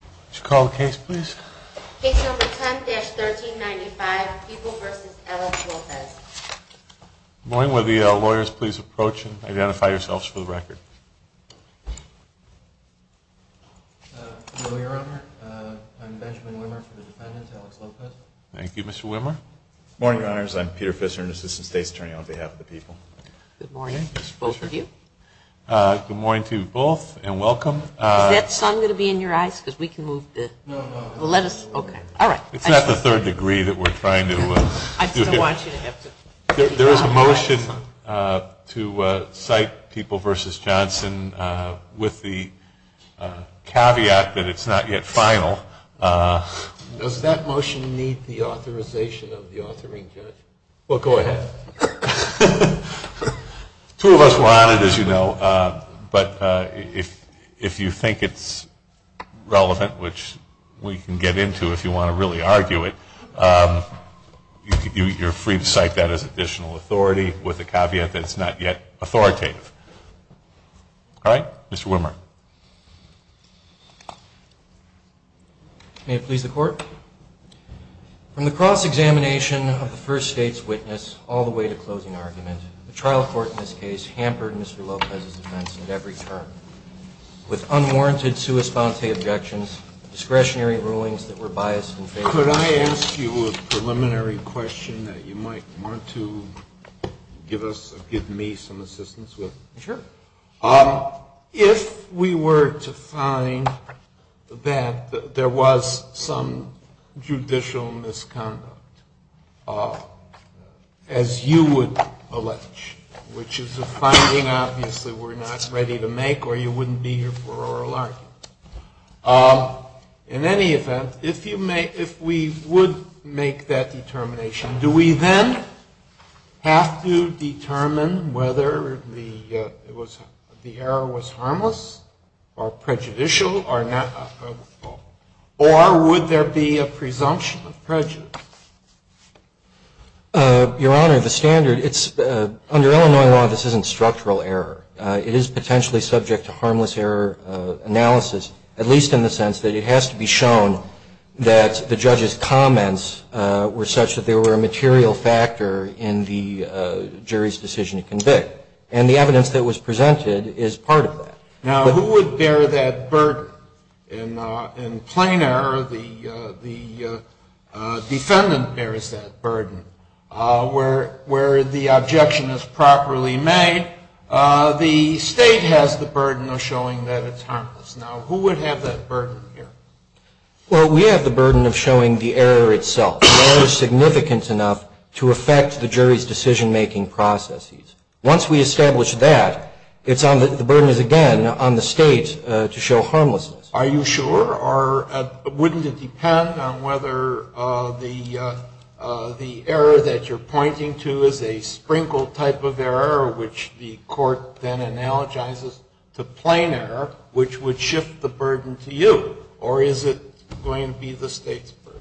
Good morning. I'm Peter Fischer, an assistant state attorney on behalf of the people. Good morning to both of you. Good morning to both, and welcome. Is that song going to be in your eyes, because we can move this? No, no, no. Let us open it. All right. It's not the third degree that we're trying to do. I didn't want you to have to. There is a motion to cite People v. Johnson with the caveat that it's not yet final. Does that motion need the authorization of the authoring judge? Well, go ahead. Two of us were on it, as you know. But if you think it's relevant, which we can get into if you want to really argue it, you're free to cite that as additional authority with the caveat that it's not yet authoritative. All right. Mr. Wimmer. May it please the court. From the cross-examination of the first state's witness all the way to closing argument, the trial court in this case hampered Mr. Lopez's defense at every turn with unwarranted sua sponte objections, discretionary rulings that were biased and favorable. Could I ask you a preliminary question that you might want to give me some assistance with? Sure. If we were to find that there was some judicial misconduct, as you would allege, which is a finding obviously we're not ready to make or you wouldn't be here for oral argument. In any event, if we would make that determination, do we then have to determine whether the error was harmless or prejudicial or not? Or would there be a presumption of prejudice? Your Honor, the standard, under Illinois law, this isn't structural error. It is potentially subject to harmless error analysis, at least in the sense that it has to be shown that the judge's comments were such that they were a material factor in the jury's decision to convict. And the evidence that was presented is part of that. Now, who would bear that burden? In plain error, the defendant bears that burden. Where the objection is properly made, the state has the burden of showing that it's harmless. Now, who would have that burden here? Well, we have the burden of showing the error itself. The error is significant enough to affect the jury's decision-making processes. Once we establish that, the burden is, again, on the state to show harmlessness. Are you sure? Or wouldn't it depend on whether the error that you're pointing to is a sprinkled type of error, which the court then analogizes to plain error, which would shift the burden to you? Or is it going to be the state's burden?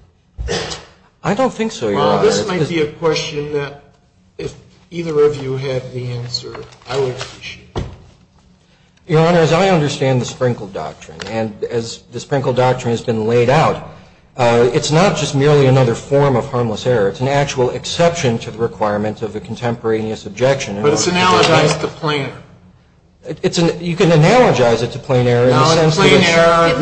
I don't think so, Your Honor. Well, this might be a question that if either of you had the answer, I would appreciate it. Your Honor, as I understand the sprinkled doctrine, and as the sprinkled doctrine has been laid out, it's not just merely another form of harmless error. It's an actual exception to the requirements of a contemporaneous objection. But it's analogized to plain error. You can analogize it to plain error. I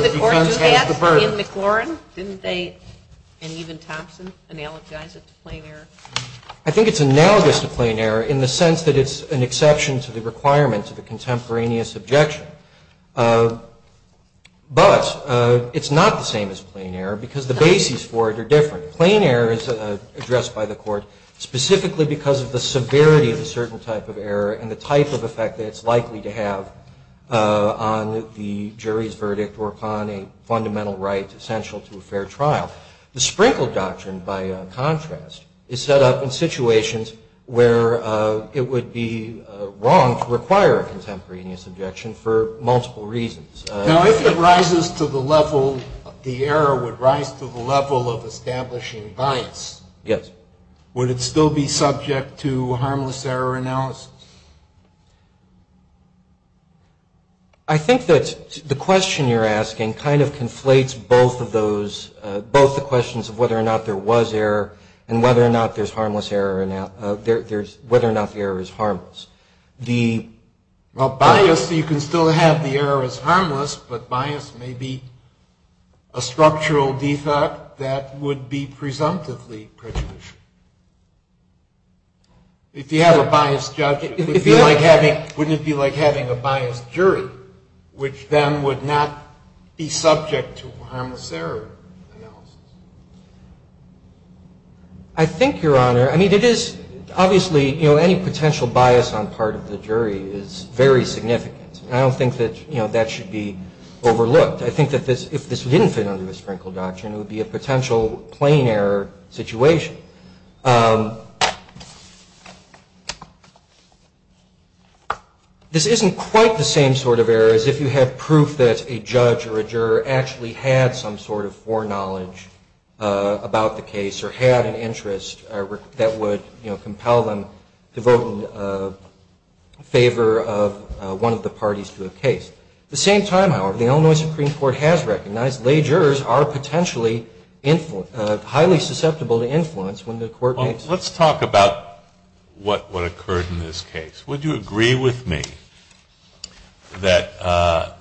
think it's analogous to plain error in the sense that it's an exception to the requirements of a contemporaneous objection. But it's not the same as plain error because the bases for it are different. Plain error is addressed by the court specifically because of the severity of a certain type of error and the type of effect that it's likely to have on the jury's decision-making processes. The jury's verdict were upon a fundamental right essential to a fair trial. The sprinkled doctrine, by contrast, is set up in situations where it would be wrong to require a contemporaneous objection for multiple reasons. Now, if the error would rise to the level of establishing violence, would it still be subject to harmless error analysis? I think that the question you're asking kind of conflates both of those, both the questions of whether or not there was error and whether or not there's harmless error, whether or not the error is harmless. Well, bias, you can still have the error as harmless, but bias may be a structural defect that would be presumptively prejudicial. If you have a biased judge, wouldn't it be like having a biased jury, which then would not be subject to harmless error analysis? I think, Your Honor, I mean, it is obviously, you know, any potential bias on the part of the jury is very significant. And I don't think that, you know, that should be overlooked. I think that if this didn't fit under the sprinkled doctrine, it would be a potential plain error situation. So, I think this isn't quite the same sort of error as if you had proof that a judge or a juror actually had some sort of foreknowledge about the case or had an interest that would, you know, compel them to vote in favor of one of the parties to the case. At the same time, however, the Illinois Supreme Court has recognized lay jurors are potentially highly susceptible to influence when the court makes... Well, let's talk about what occurred in this case. Would you agree with me that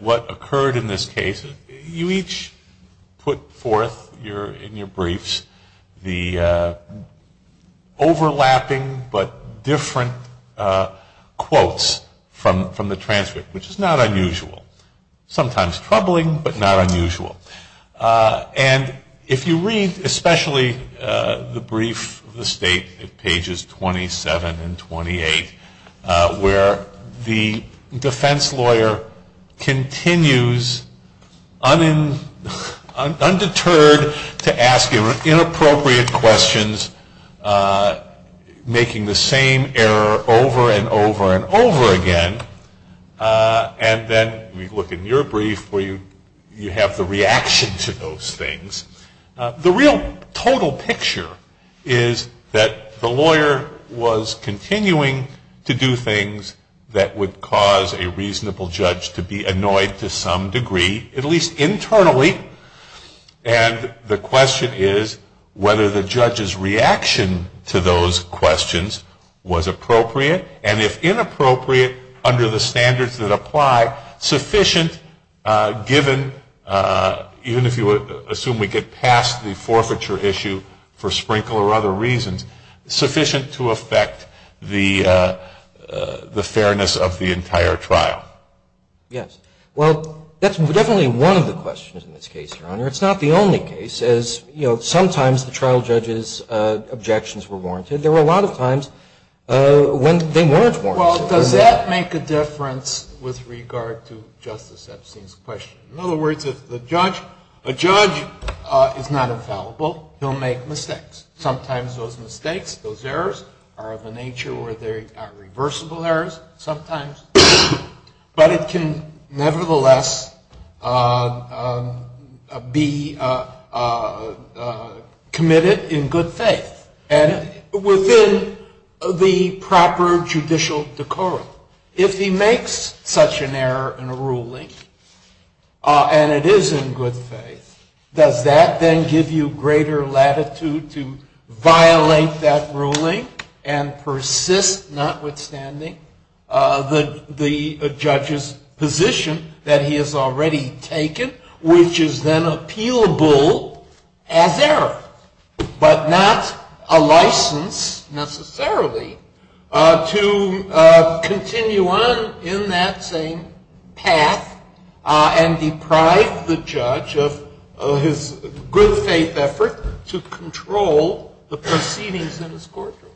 what occurred in this case... You each put forth in your briefs the overlapping but different quotes from the transcript, which is not unusual. Sometimes troubling, but not unusual. And if you read especially the brief, the state pages 27 and 28, where the defense lawyer continues undeterred to ask inappropriate questions, making the same error over and over and over again, and then you look in your brief where you have the reaction to those things, the real total picture is that the lawyer was continuing to do things that would cause a reasonable judge to be annoyed to some degree, at least internally, and the question is whether the judge's reaction to those questions was appropriate, and if inappropriate under the standards that apply, sufficient given, even if you assume we get past the forfeiture issue for Sprinkle or other reasons, sufficient to affect the fairness of the entire trial? Yes. Well, that's definitely one of the questions in this case, Your Honor. It's not the only case. As you know, sometimes the trial judge's objections were warranted. And there were a lot of times when they weren't warranted. Well, does that make a difference with regard to Justice Epstein's question? In other words, if the judge is not infallible, he'll make mistakes. Sometimes those mistakes, those errors, are of a nature where they are reversible errors sometimes, but it can nevertheless be committed in good faith. And within the proper judicial decorum. If he makes such an error in a ruling, and it is in good faith, does that then give you greater latitude to violate that ruling and persist notwithstanding the judge's position that he has already taken, which is then appealable as error, but not a license necessarily to continue on in that same path and deprive the judge of his good faith effort to control the proceedings in his courtroom?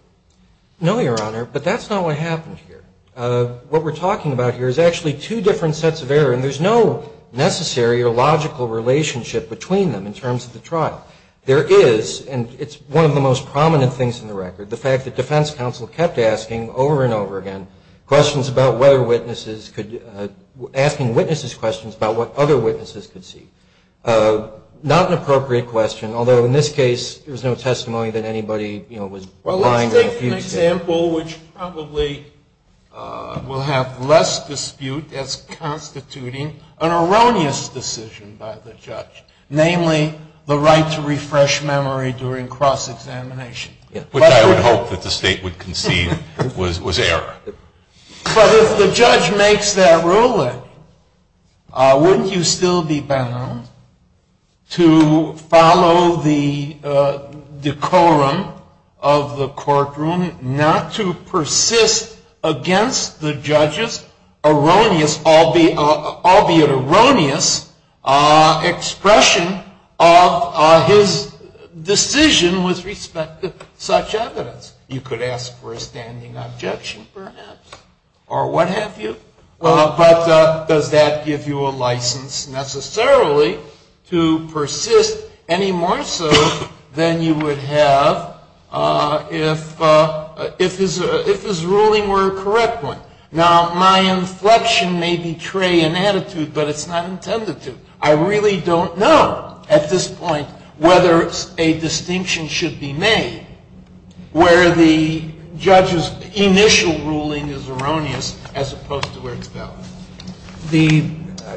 No, Your Honor. But that's not what happens here. What we're talking about here is actually two different sets of error. And there's no necessary or logical relationship between them in terms of the trial. There is, and it's one of the most prominent things in the record, the fact that defense counsel kept asking over and over again questions about whether witnesses could, asking witnesses questions about what other witnesses could see. Not an appropriate question, although in this case there was no testimony that anybody was lying or accusing. There is an example which probably will have less dispute as constituting an erroneous decision by the judge, namely the right to refresh memory during cross-examination. Which I would hope that the state would conceive was error. But if the judge makes that ruling, wouldn't you still be bound to follow the decorum of the courtroom not to persist against the judge's erroneous, albeit erroneous, expression of his decision with respect to such evidence? You could ask for a standing objection perhaps, or what have you. But does that give you a license necessarily to persist any more so than you would have if his ruling were a correct one? Now, my inflection may betray an attitude, but it's not intended to. I really don't know at this point whether a distinction should be made where the judge's initial ruling is erroneous as opposed to where it's valid.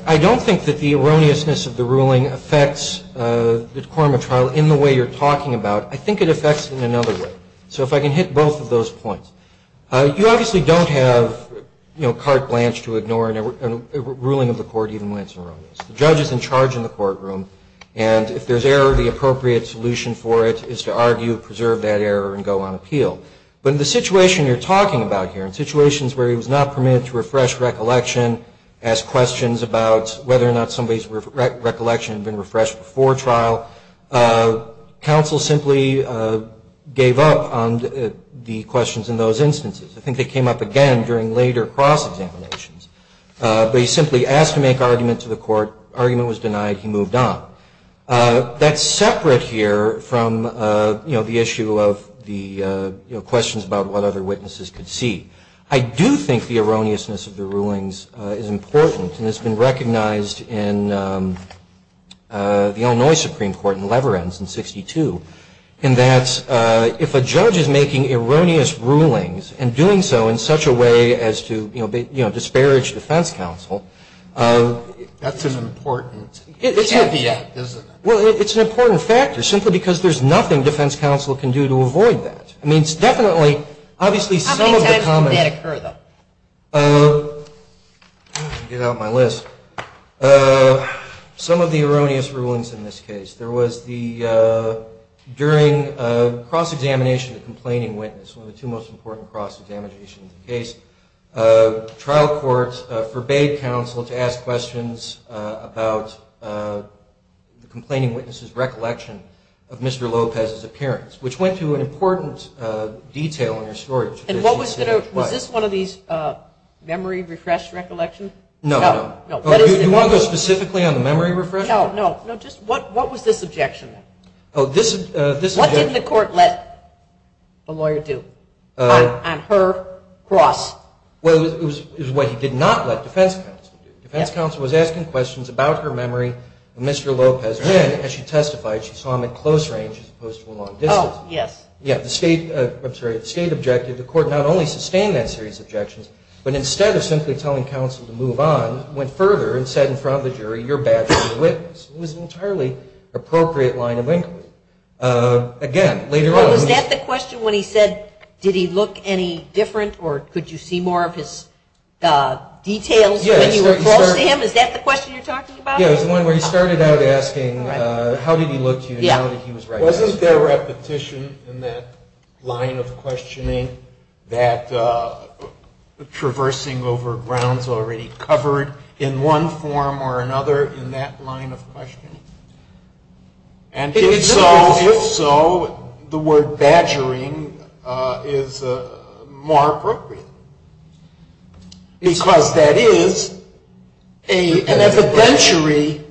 I don't think that the erroneousness of the ruling affects the decorum of trial in the way you're talking about. I think it affects it in another way. So if I can hit both of those points. You obviously don't have carte blanche to ignore a ruling of the court even when it's erroneous. The judge is in charge in the courtroom. And if there's error, the appropriate solution for it is to argue, preserve that error, and go on appeal. But in the situation you're talking about here, in situations where he was not permitted to refresh recollection, ask questions about whether or not somebody's recollection had been refreshed before trial, counsel simply gave up on the questions in those instances. I think they came up again during later cross-examinations. But he simply asked to make argument to the court. Argument was denied. He moved on. That's separate here from the issue of the questions about what other witnesses could see. I do think the erroneousness of the rulings is important, and it's been recognized in the Illinois Supreme Court in Labyrinth in 1962, in that if a judge is making erroneous rulings and doing so in such a way as to, you know, disparage defense counsel. That's an important caveat, isn't it? Well, it's an important factor simply because there's nothing defense counsel can do to avoid that. I mean, it's definitely, obviously, some of the common... How many did occur, though? Get out of my list. Some of the erroneous rulings in this case. There was the, during the cross-examination of the complaining witness, one of the two most important cross-examinations in the case, the trial court forbade counsel to ask questions about the complaining witness's recollection of Mr. Lopez's appearance, which went through an important detail in her story. And was this one of these memory refresh recollections? No. No. Do you want to go specifically on the memory refresh? No, no. What was this objection? What didn't the court let the lawyer do on her cross? Well, it was what he did not let defense counsel do. Defense counsel was asking questions about her memory of Mr. Lopez, because, again, as she testified, she saw him in close range as opposed to long distance. Oh, yes. Yes, the state objective, the court not only sustained that series of objections, but instead of simply telling counsel to move on, went further and said in front of the jury, you're bad for being a witness. It was an entirely appropriate line of inquiry. Again, later on... Was that the question when he said, did he look any different, or could you see more of his details when he reported to him? Is that the question you're talking about? Yes, the one where he started out asking how did he look to you and how did he look to you. Wasn't there repetition in that line of questioning that traversing over grounds already covered in one form or another in that line of questioning? And if so, the word badgering is more appropriate. Because that is an evidentiary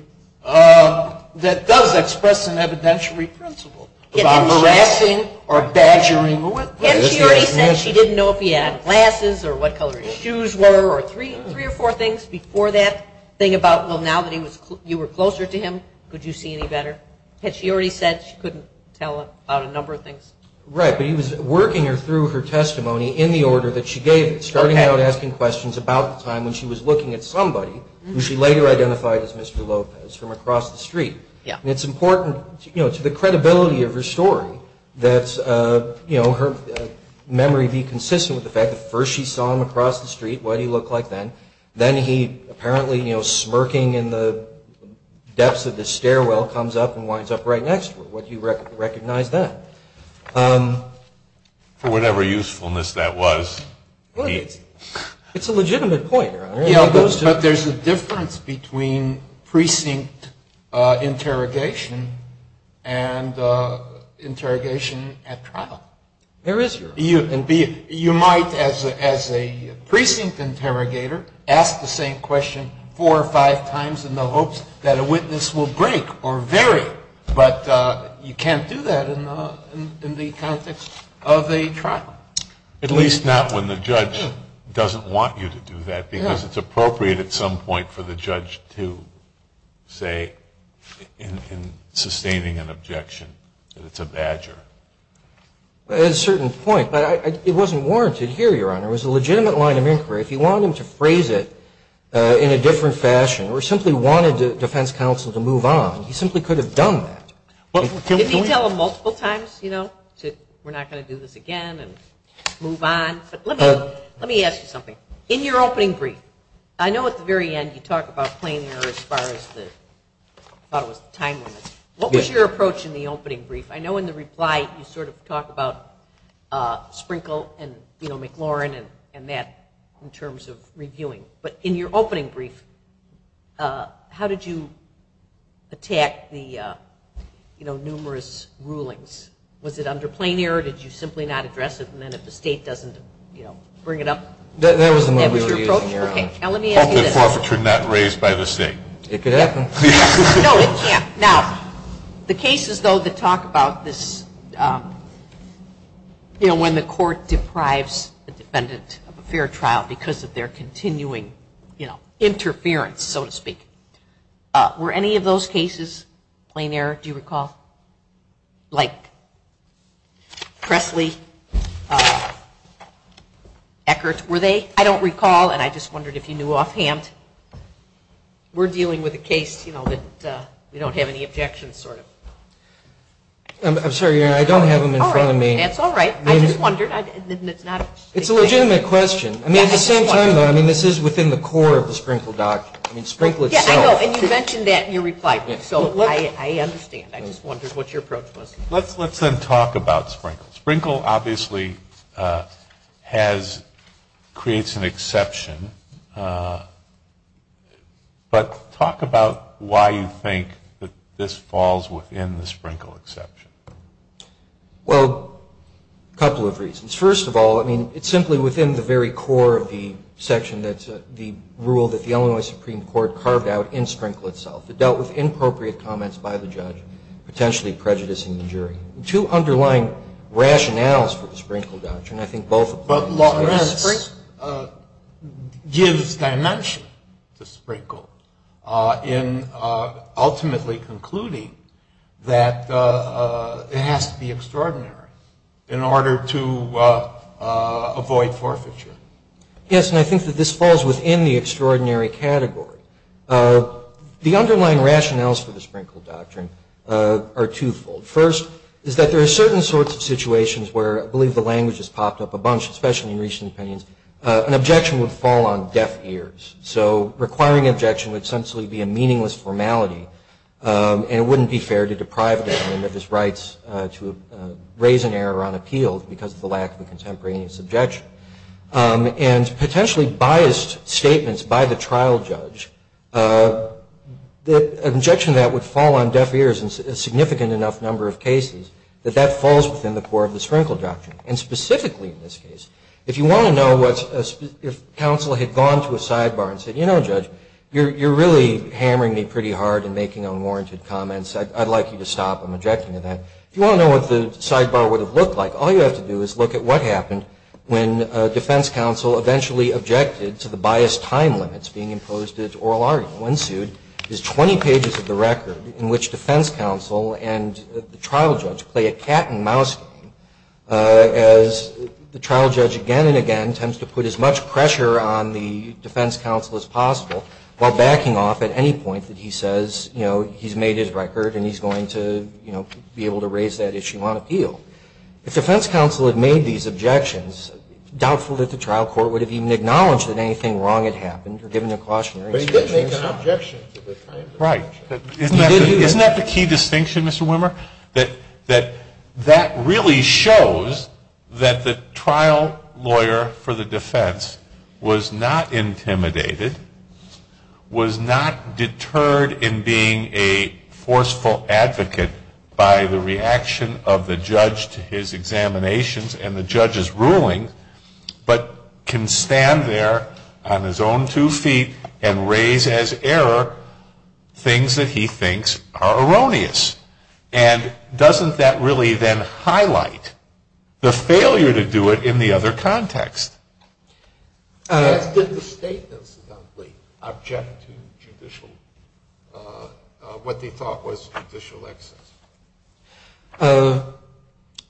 that does express an evidentiary principle, that I'm harassing or badgering the witness. And she didn't know if he had glasses or what color his shoes were or three or four things before that, saying about, well, now that you were closer to him, could you see any better? Had she already said she couldn't tell about a number of things? Right, but he was working her through her testimony in the order that she gave, starting out asking questions about the time when she was looking at somebody who she later identified as Mr. Lopez from across the street. And it's important to the credibility of her story that her memory be consistent with the fact that first she saw him across the street, what he looked like then. Then he, apparently smirking in the depths of the stairwell, comes up and winds up right next to her. Would you recognize that? For whatever usefulness that was. It's a legitimate point, Your Honor. There's a difference between precinct interrogation and interrogation at trial. There is, Your Honor. You might, as a precinct interrogator, ask the same question four or five times in the hopes that a witness will break or vary. But you can't do that in the context of a trial. At least not when the judge doesn't want you to do that, because it's appropriate at some point for the judge to say, in sustaining an objection, that it's a badger. At a certain point. It wasn't warranted here, Your Honor. It was a legitimate line of inquiry. If he wanted to phrase it in a different fashion or simply wanted the defense counsel to move on, he simply could have done that. Didn't he tell them multiple times, you know, that we're not going to do this again and move on? But let me ask you something. In your opening brief, I know at the very end you talk about plain and earnest violence, about timeliness. What was your approach in the opening brief? I know in the reply you sort of talk about Sprinkle and, you know, McLaurin and that in terms of reviewing. But in your opening brief, how did you attack the, you know, numerous rulings? Was it under plain error? Did you simply not address it? And then if the state doesn't, you know, bring it up? That was under plain error. Okay, now let me ask you this. Probably forfeiture not raised by the state. It could happen. No, it can't. Now, the cases, though, that talk about this, you know, when the court deprives the defendant of a fair trial because of their continuing, you know, interference, so to speak. Were any of those cases plain error, do you recall? Like Pressley, Eckert, were they? I don't recall, and I just wondered if you knew offhand. We're dealing with a case, you know, that we don't have any objections, sort of. I'm sorry, I don't have them in front of me. That's all right. I just wondered. It's a legitimate question. I mean, at the same time, though, I mean, this is within the core of the Sprinkle document. I mean, Sprinkle itself. Yeah, I know, and you mentioned that in your reply. So I understand. I just wondered what your approach was. Let's then talk about Sprinkle. Sprinkle obviously has, creates an exception, but talk about why you think that this falls within the Sprinkle exception. Well, a couple of reasons. First of all, I mean, it's simply within the very core of the section that's the rule that the Illinois Supreme Court carved out in Sprinkle itself. It dealt with inappropriate comments by the judge, potentially prejudicing the jury. The two underlying rationales for the Sprinkle doctrine, I think both apply. First, it gives dimension to Sprinkle in ultimately concluding that it has to be extraordinary in order to avoid forfeiture. Yes, and I think that this falls within the extraordinary category. The underlying rationales for the Sprinkle doctrine are twofold. The first is that there are certain sorts of situations where, I believe the language has popped up a bunch, especially in recent opinions, an objection would fall on deaf ears. So requiring an objection would essentially be a meaningless formality, and it wouldn't be fair to deprive the defendant of his rights to raise an error on appeal because of the lack of a contemporaneous objection. And potentially biased statements by the trial judge, an objection to that would fall on deaf ears in a significant enough number of cases that that falls within the core of the Sprinkle doctrine, and specifically in this case. If you want to know if counsel had gone to a sidebar and said, you know, judge, you're really hammering me pretty hard and making unwarranted comments. I'd like you to stop. I'm objecting to that. If you want to know what the sidebar would have looked like, all you have to do is look at what happened when a defense counsel eventually objected to the biased time limits being imposed to this oral argument. What ensued is 20 pages of the record in which defense counsel and the trial judge play a cat and mouse game as the trial judge again and again tends to put as much pressure on the defense counsel as possible while backing off at any point that he says, you know, he's made his record and he's going to, you know, be able to raise that issue on appeal. If defense counsel had made these objections, doubtful that the trial court would have even acknowledged that anything wrong had happened Isn't that the key distinction, Mr. Wimmer? That that really shows that the trial lawyer for the defense was not intimidated, was not deterred in being a forceful advocate by the reaction of the judge to his examinations and the judge's ruling, but can stand there on his own two feet and raise as error things that he thinks are erroneous. And doesn't that really then highlight the failure to do it in the other context? The state does not really object to what they thought was judicial excess.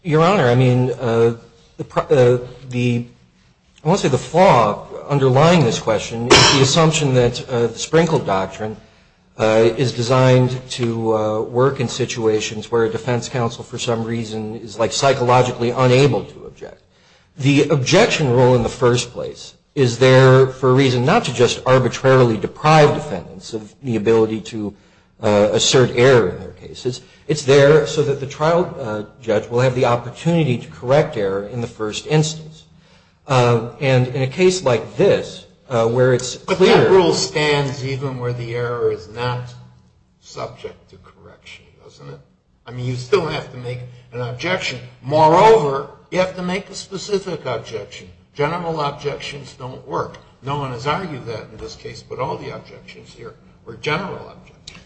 Your Honor, I mean, I want to say the flaw underlying this question is the assumption that the Sprinkle Doctrine is designed to work in situations where a defense counsel for some reason is like psychologically unable to object. The objection rule in the first place is there for a reason not to just arbitrarily deprive defendants of the ability to assert error in their cases. It's there so that the trial judge will have the opportunity to correct error in the first instance. And in a case like this where it's clear... But that rule stands even where the error is not subject to correction, doesn't it? I mean, you still have to make an objection. Moreover, you have to make a specific objection. General objections don't work. No one has argued that in this case, but all the objections here were general objections.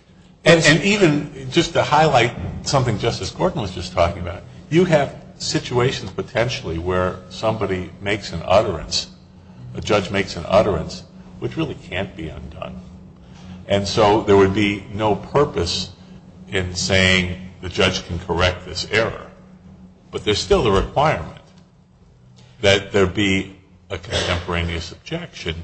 And even just to highlight something Justice Gordon was just talking about, you have situations potentially where somebody makes an utterance, the judge makes an utterance, which really can't be undone. And so there would be no purpose in saying the judge can correct this error. But there's still the requirement that there be a contemporaneous objection.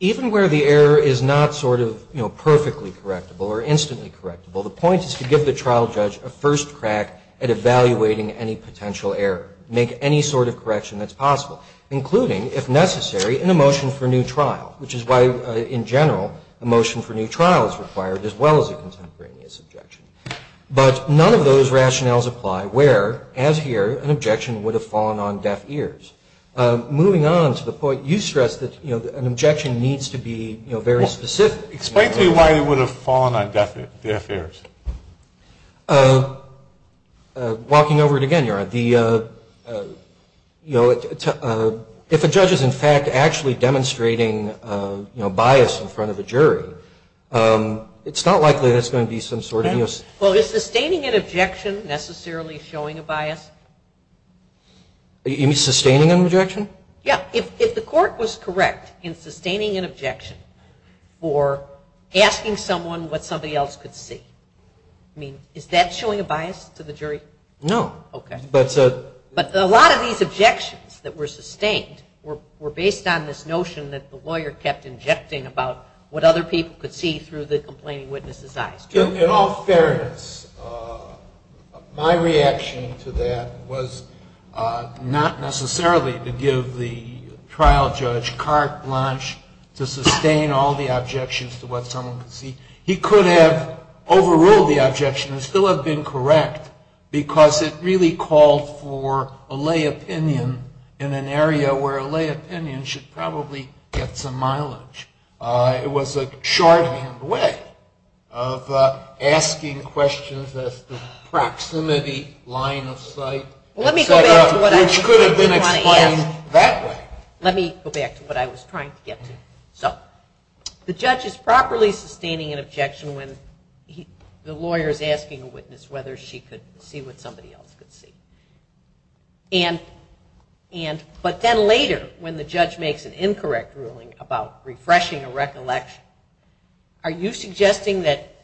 Even where the error is not sort of perfectly correctable or instantly correctable, the point is to give the trial judge a first crack at evaluating any potential error, make any sort of correction that's possible, including, if necessary, an emotion for new trial, which is why, in general, emotion for new trial is required as well as a contemporaneous objection. But none of those rationales apply where, as here, an objection would have fallen on deaf ears. Moving on to the point you stressed, that an objection needs to be very specific. Explain to me why it would have fallen on deaf ears. Walking over it again, Your Honor. If a judge is, in fact, actually demonstrating bias in front of a jury, it's not likely that's going to be some sort of... Well, is sustaining an objection necessarily showing a bias? In sustaining an objection? Yeah. If the court was correct in sustaining an objection for asking someone what somebody else could see, I mean, is that showing a bias to the jury? No. Okay. But a lot of these objections that were sustained were based on this notion that the lawyer kept injecting about what other people could see through the complaining witness's eyes. In all fairness, my reaction to that was not necessarily to give the trial judge carte blanche to sustain all the objections to what someone could see. He could have overruled the objection and still have been correct because it really called for a lay opinion in an area where a lay opinion should probably get some mileage. It was a sharp way of asking questions of the proximity line of sight, which could have been explained that way. Let me go back to what I was trying to get to. So, the judge is properly sustaining an objection when the lawyer is asking the witness whether she could see what somebody else could see. But then later when the judge makes an incorrect ruling about refreshing a recollection, are you suggesting that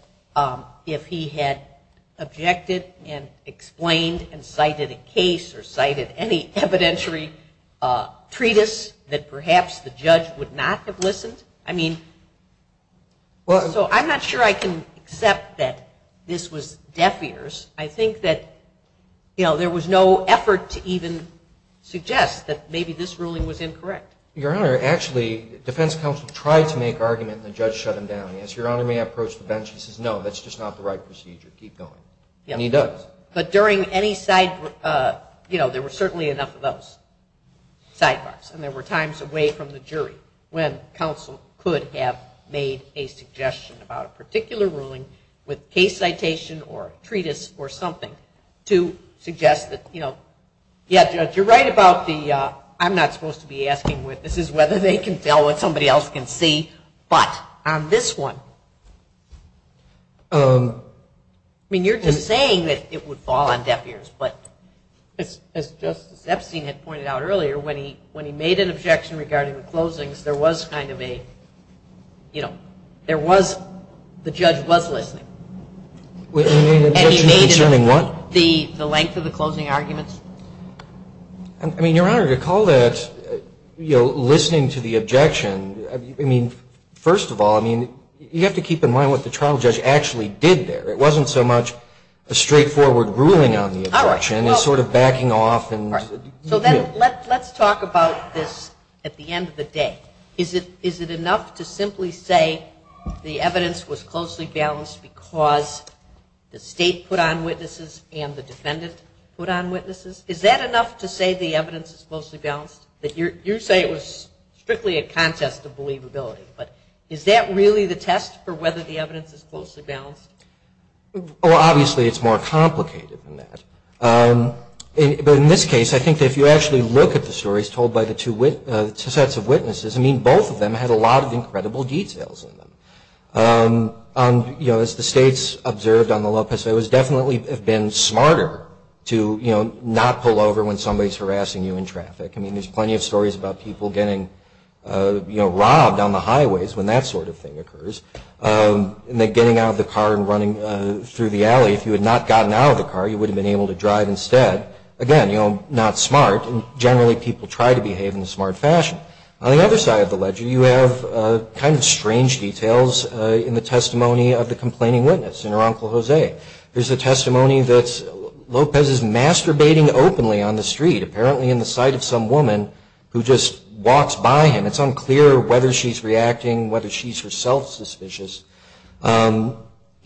if he had objected and explained and cited a case or cited any evidentiary treatise that perhaps the judge would not have listened? I mean, so I'm not sure I can accept that this was deaf ears. I think that, you know, there was no effort to even suggest that maybe this ruling was incorrect. Your Honor, actually, defense counsel tried to make argument and the judge shut him down. And as Your Honor may have approached the bench, he says, no, that's just not the right procedure. Keep going. And he does. But during any side, you know, there were certainly enough of those sidebars. And there were times away from the jury when counsel could have made a suggestion about a particular ruling with case citation or treatise or something to suggest that, you know, yes, you're right about the, I'm not supposed to be asking witnesses whether they can tell what somebody else can see. But on this one, I mean, you're just saying that it would fall on deaf ears. But as Justice Epstein had pointed out earlier, when he made an objection regarding the closings, there was kind of a, you know, there was, the judge was listening. And he made the length of the closing arguments. I mean, Your Honor, to call that, you know, listening to the objection, I mean, first of all, I mean, you have to keep in mind what the trial judge actually did there. It wasn't so much a straightforward ruling on the objection. It was sort of backing off. So let's talk about this at the end of the day. Is it enough to simply say the evidence was closely balanced because the state put on witnesses and the defendant put on witnesses? Is that enough to say the evidence is closely balanced? You say it was strictly a contest of believability. But is that really the test for whether the evidence is closely balanced? Well, obviously, it's more complicated than that. But in this case, I think that if you actually look at the stories told by the two sets of witnesses, I mean, both of them had a lot of incredible details in them. You know, as the states observed on the Lopez case, it would definitely have been smarter to, you know, not pull over when somebody's harassing you in traffic. I mean, there's plenty of stories about people getting, you know, robbed on the highways when that sort of thing occurs. And they're getting out of the car and running through the alley. If you had not gotten out of the car, you would have been able to drive instead. Again, you know, not smart. Generally, people try to behave in a smart fashion. On the other side of the ledger, you have kind of strange details in the testimony of the complaining witness, in her Uncle Jose. There's a testimony that Lopez is masturbating openly on the street, apparently in the sight of some woman who just walks by him. It's unclear whether she's reacting, whether she's herself suspicious.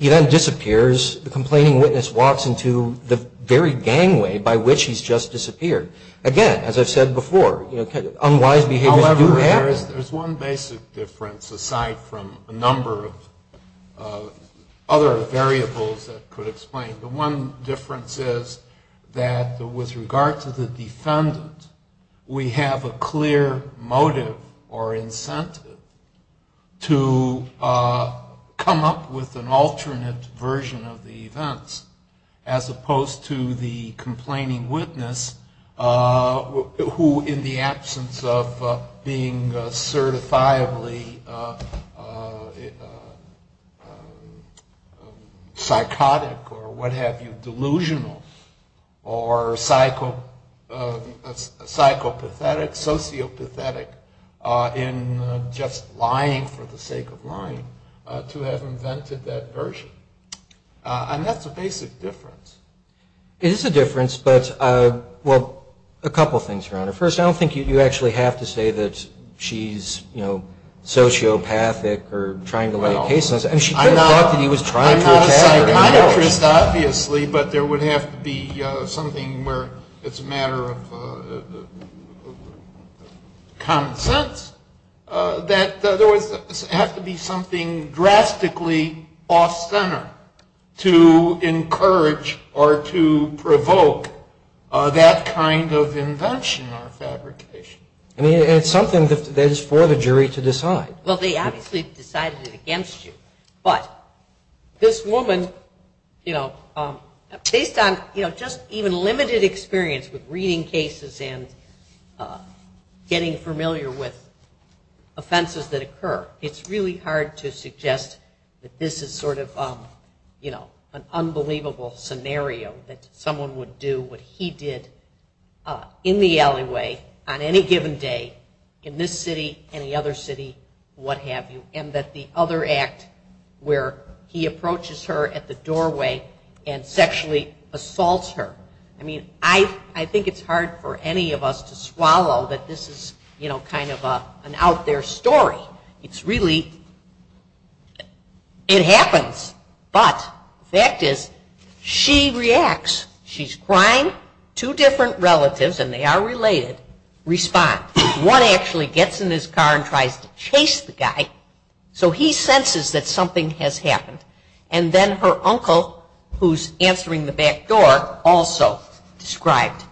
He then disappears. The complaining witness walks into the very gangway by which he's just disappeared. Again, as I've said before, you know, unwise behavior. However, there's one basic difference, aside from a number of other variables that could explain it. The one difference is that with regard to the defendant, we have a clear motive or incentive to come up with an alternate version of the events, as opposed to the complaining witness, who, in the absence of being certifiably psychotic or what have you, delusional, or psychopathetic, sociopathetic, in just lying for the sake of lying, to have invented that version. And that's a basic difference. It is a difference, but, well, a couple of things around it. First, I don't think you actually have to say that she's, you know, sociopathic or trying to lie to cases. I mean, she turned it off when he was trying to attack her. Obviously, but there would have to be something where it's a matter of consensus. There would have to be something drastically off-center to encourage or to provoke that kind of invention or fabrication. And it's something that is for the jury to decide. Well, they obviously decided it against you. But this woman, you know, based on, you know, just even limited experience with reading cases and getting familiar with offenses that occur, it's really hard to suggest that this is sort of, you know, an unbelievable scenario that someone would do what he did in the alleyway on any given day, in this city, any other city, what have you. And that the other act where he approaches her at the doorway and sexually assaults her. I mean, I think it's hard for any of us to swallow that this is, you know, kind of an out there story. It's really, it happens. But the fact is, she reacts. She's crying. Two different relatives, and they are related, respond. One actually gets in his car and tries to chase the guy. So he senses that something has happened. And then her uncle, who's answering the back door, also described.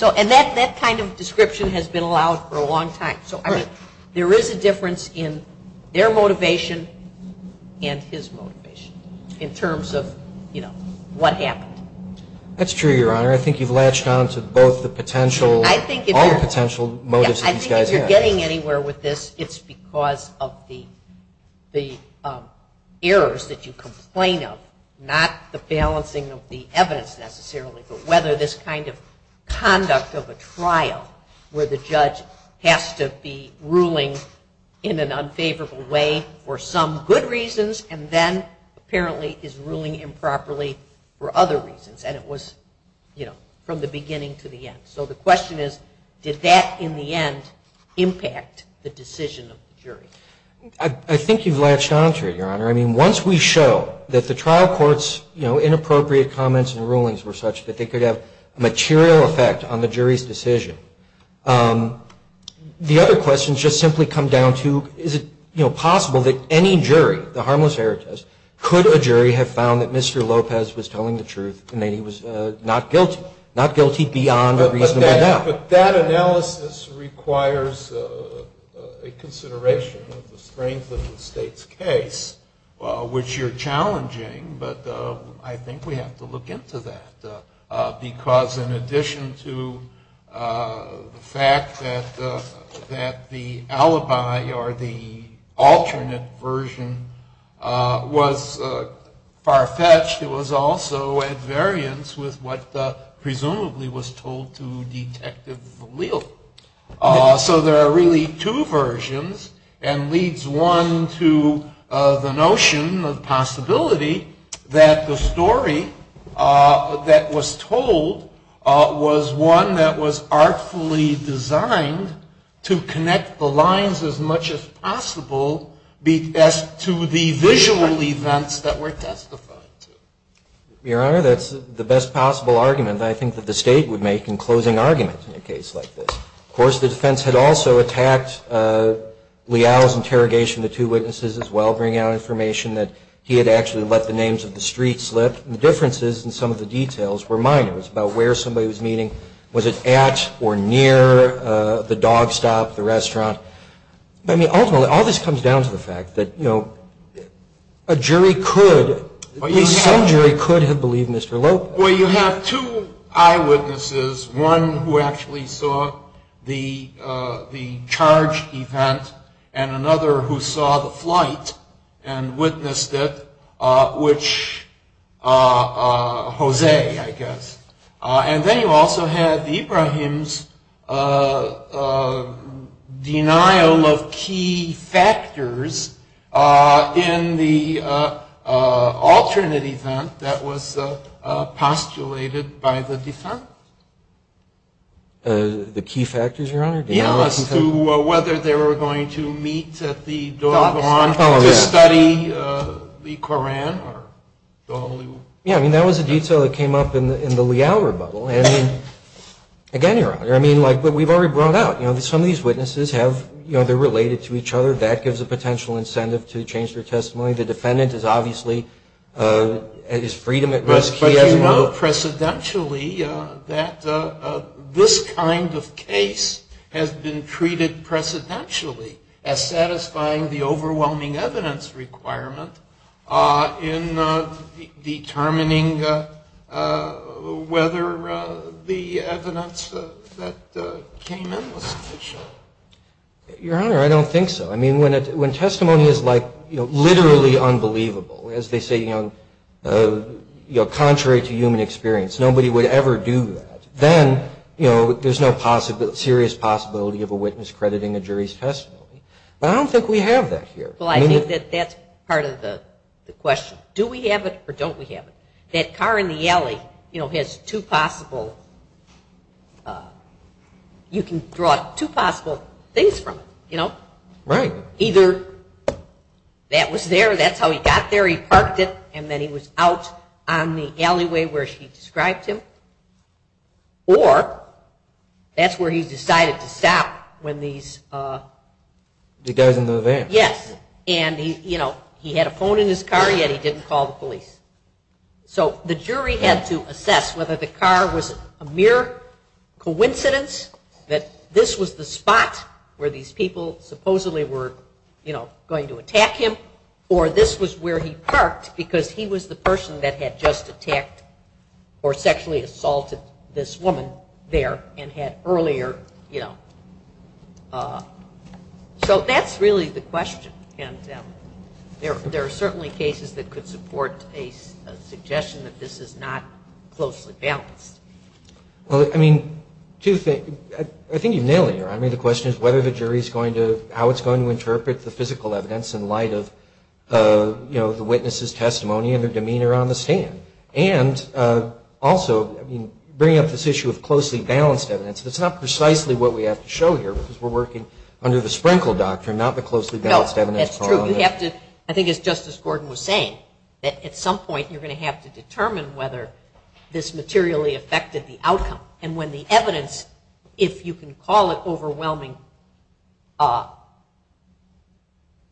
And that kind of description has been allowed for a long time. So, I mean, there is a difference in their motivation and his motivation in terms of, you know, what happened. That's true, Your Honor. Your Honor, I think you've latched on to both the potential, all the potential motives. I think if you're getting anywhere with this, it's because of the errors that you complain of. Not the balancing of the evidence necessarily, but whether this kind of conduct of a trial where the judge has to be ruling in an unfavorable way for some good reasons, and then apparently is ruling improperly for other reasons. And it was, you know, from the beginning to the end. So the question is, did that, in the end, impact the decision of the jury? I think you've latched on to it, Your Honor. I mean, once we show that the trial court's, you know, inappropriate comments and rulings were such that they could have a material effect on the jury's decision, the other question should simply come down to, is it, you know, possible that any jury, the harmless error test, could a jury have found that Mr. Lopez was telling the truth and that he was not guilty? Not guilty beyond a reasonable doubt. But that analysis requires a consideration of the strength of the state's case, which you're challenging. But I think we have to look into that, because in addition to the fact that the alibi or the alternate version was far-fetched, it was also at variance with what presumably was told to Detective Leal. So there are really two versions, and leads one to the notion, the possibility, that the story that was told was one that was artfully designed to connect the lines as much as possible as to the visual events that were testified to. Your Honor, that's the best possible argument, I think, that the state would make in closing arguments in a case like this. Of course, the defense had also attacked Leal's interrogation of the two witnesses as well, bringing out information that he had actually let the names of the streets slip. The differences in some of the details were minor. It was about where somebody was meeting. Was it at or near the dog stop, the restaurant? I mean, ultimately, all this comes down to the fact that, you know, a jury could, some jury could have believed Mr. Lopez. Well, you have two eyewitnesses, one who actually saw the charge event, and another who saw the flight and witnessed it, which, Jose, I guess. And then you also have Ibrahim's denial of key factors in the alternate event that was postulated by the defense. The key factors, Your Honor? Yes, to whether they were going to meet at the door of the lawn to study the Koran. Yeah, I mean, that was a detail that came up in the Leal rebuttal. And again, Your Honor, I mean, like, but we've already brought out, you know, some of these witnesses have, you know, they're related to each other. That gives a potential incentive to change their testimony. The defendant is obviously at his freedom at risk here. Do you know precedentially that this kind of case has been treated precedentially as satisfying the overwhelming evidence requirement in determining whether the evidence that came in was sufficient? Your Honor, I don't think so. I mean, when testimony is, like, you know, literally unbelievable, as they say, you know, contrary to human experience, nobody would ever do that. Then, you know, there's no serious possibility of a witness crediting a jury's testimony. But I don't think we have that here. Well, I think that that's part of the question. Do we have it or don't we have it? That car in the alley, you know, has two possible, you can draw two possible things from it, you know? Right. Either that was there, that's how he got there, he parked it, and then he was out on the alleyway where she described him, or that's where he decided to stop when these... He doesn't know there. Yes. And, you know, he had a phone in his car, yet he didn't call the police. So the jury has to assess whether the car was a mere coincidence, that this was the spot where these people supposedly were, you know, going to attack him, or this was where he parked because he was the person that had just attacked or sexually assaulted this woman there and had earlier, you know... So that's really the question. There are certainly cases that could support a suggestion that this is not closely balanced. Well, I mean, two things. I think you've nailed it here. I mean, the question is whether the jury is going to, how it's going to interpret the physical evidence in light of, you know, the witness's testimony and their demeanor on the stand. And also, I mean, bringing up this issue of closely balanced evidence, that's not precisely what we have to show here because we're working under the Sprinkle Doctrine, not the closely balanced evidence. No, that's true. We have to, I think it's just as Gordon was saying, that at some point you're going to have to determine whether this materially affected the outcome. And when the evidence, if you can call it overwhelming,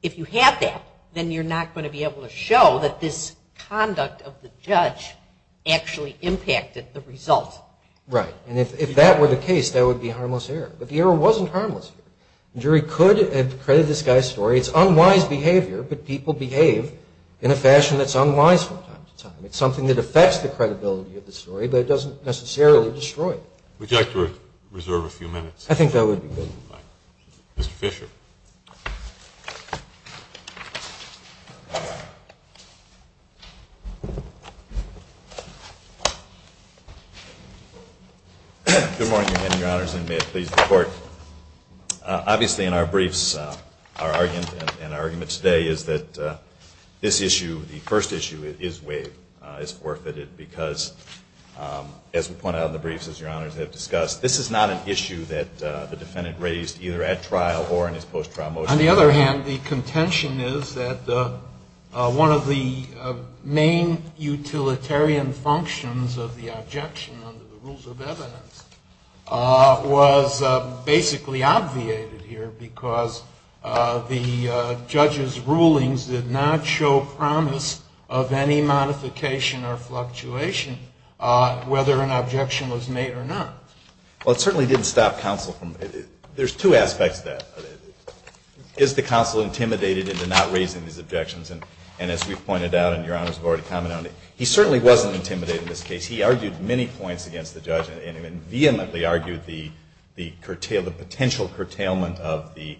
if you have that, then you're not going to be able to show that this conduct of the judge actually impacted the result. Right. And if that were the case, that would be a harmless error. But the error wasn't harmless. The jury could, and credit this guy's story, it's unwise behavior, but people behave in a fashion that's unwise sometimes. It's something that affects the credibility of the story, but it doesn't necessarily destroy it. Would you like to reserve a few minutes? I think that would be good. Mr. Fisher. Good morning, Your Honor, and may it please the Court. Obviously in our briefs, our argument today is that this issue, the first issue, is waived. It's forfeited because, as we pointed out in the briefs, as Your Honors have discussed, this is not an issue that the defendant raised either at trial or in his post-trial motion. On the other hand, the contention is that one of the main utilitarian functions of the objection under the rules of evidence was basically obviated here because the judge's rulings did not show promise of any modification or fluctuation whether an objection was made or not. Well, it certainly didn't stop counsel from, there's two aspects to that. Is the counsel intimidated into not raising these objections? And as we've pointed out, and Your Honors have already commented on it, he certainly wasn't intimidated in this case. He argued many points against the judge and vehemently argued the potential curtailment of the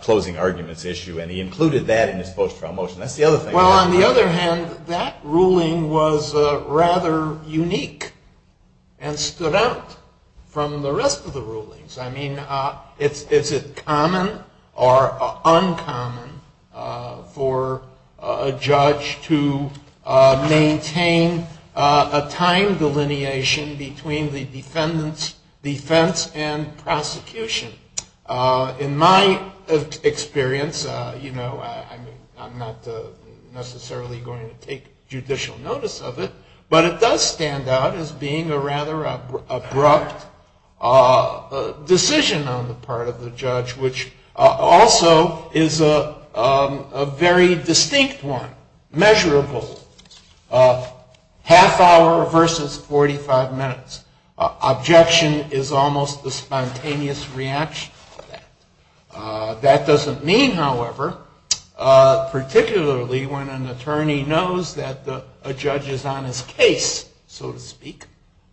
closing arguments issue, and he included that in his post-trial motion. That's the other thing. Well, on the other hand, that ruling was rather unique and stood out from the rest of the rulings. I mean, is it common or uncommon for a judge to maintain a timed delineation between the defendant's defense and prosecution? In my experience, you know, I'm not necessarily going to take judicial notice of it, but it does stand out as being a rather abrupt decision on the part of the judge, which also is a very distinct one, measurable, half hour versus 45 minutes. Objection is almost a spontaneous reaction. That doesn't mean, however, particularly when an attorney knows that a judge is on his case, so to speak,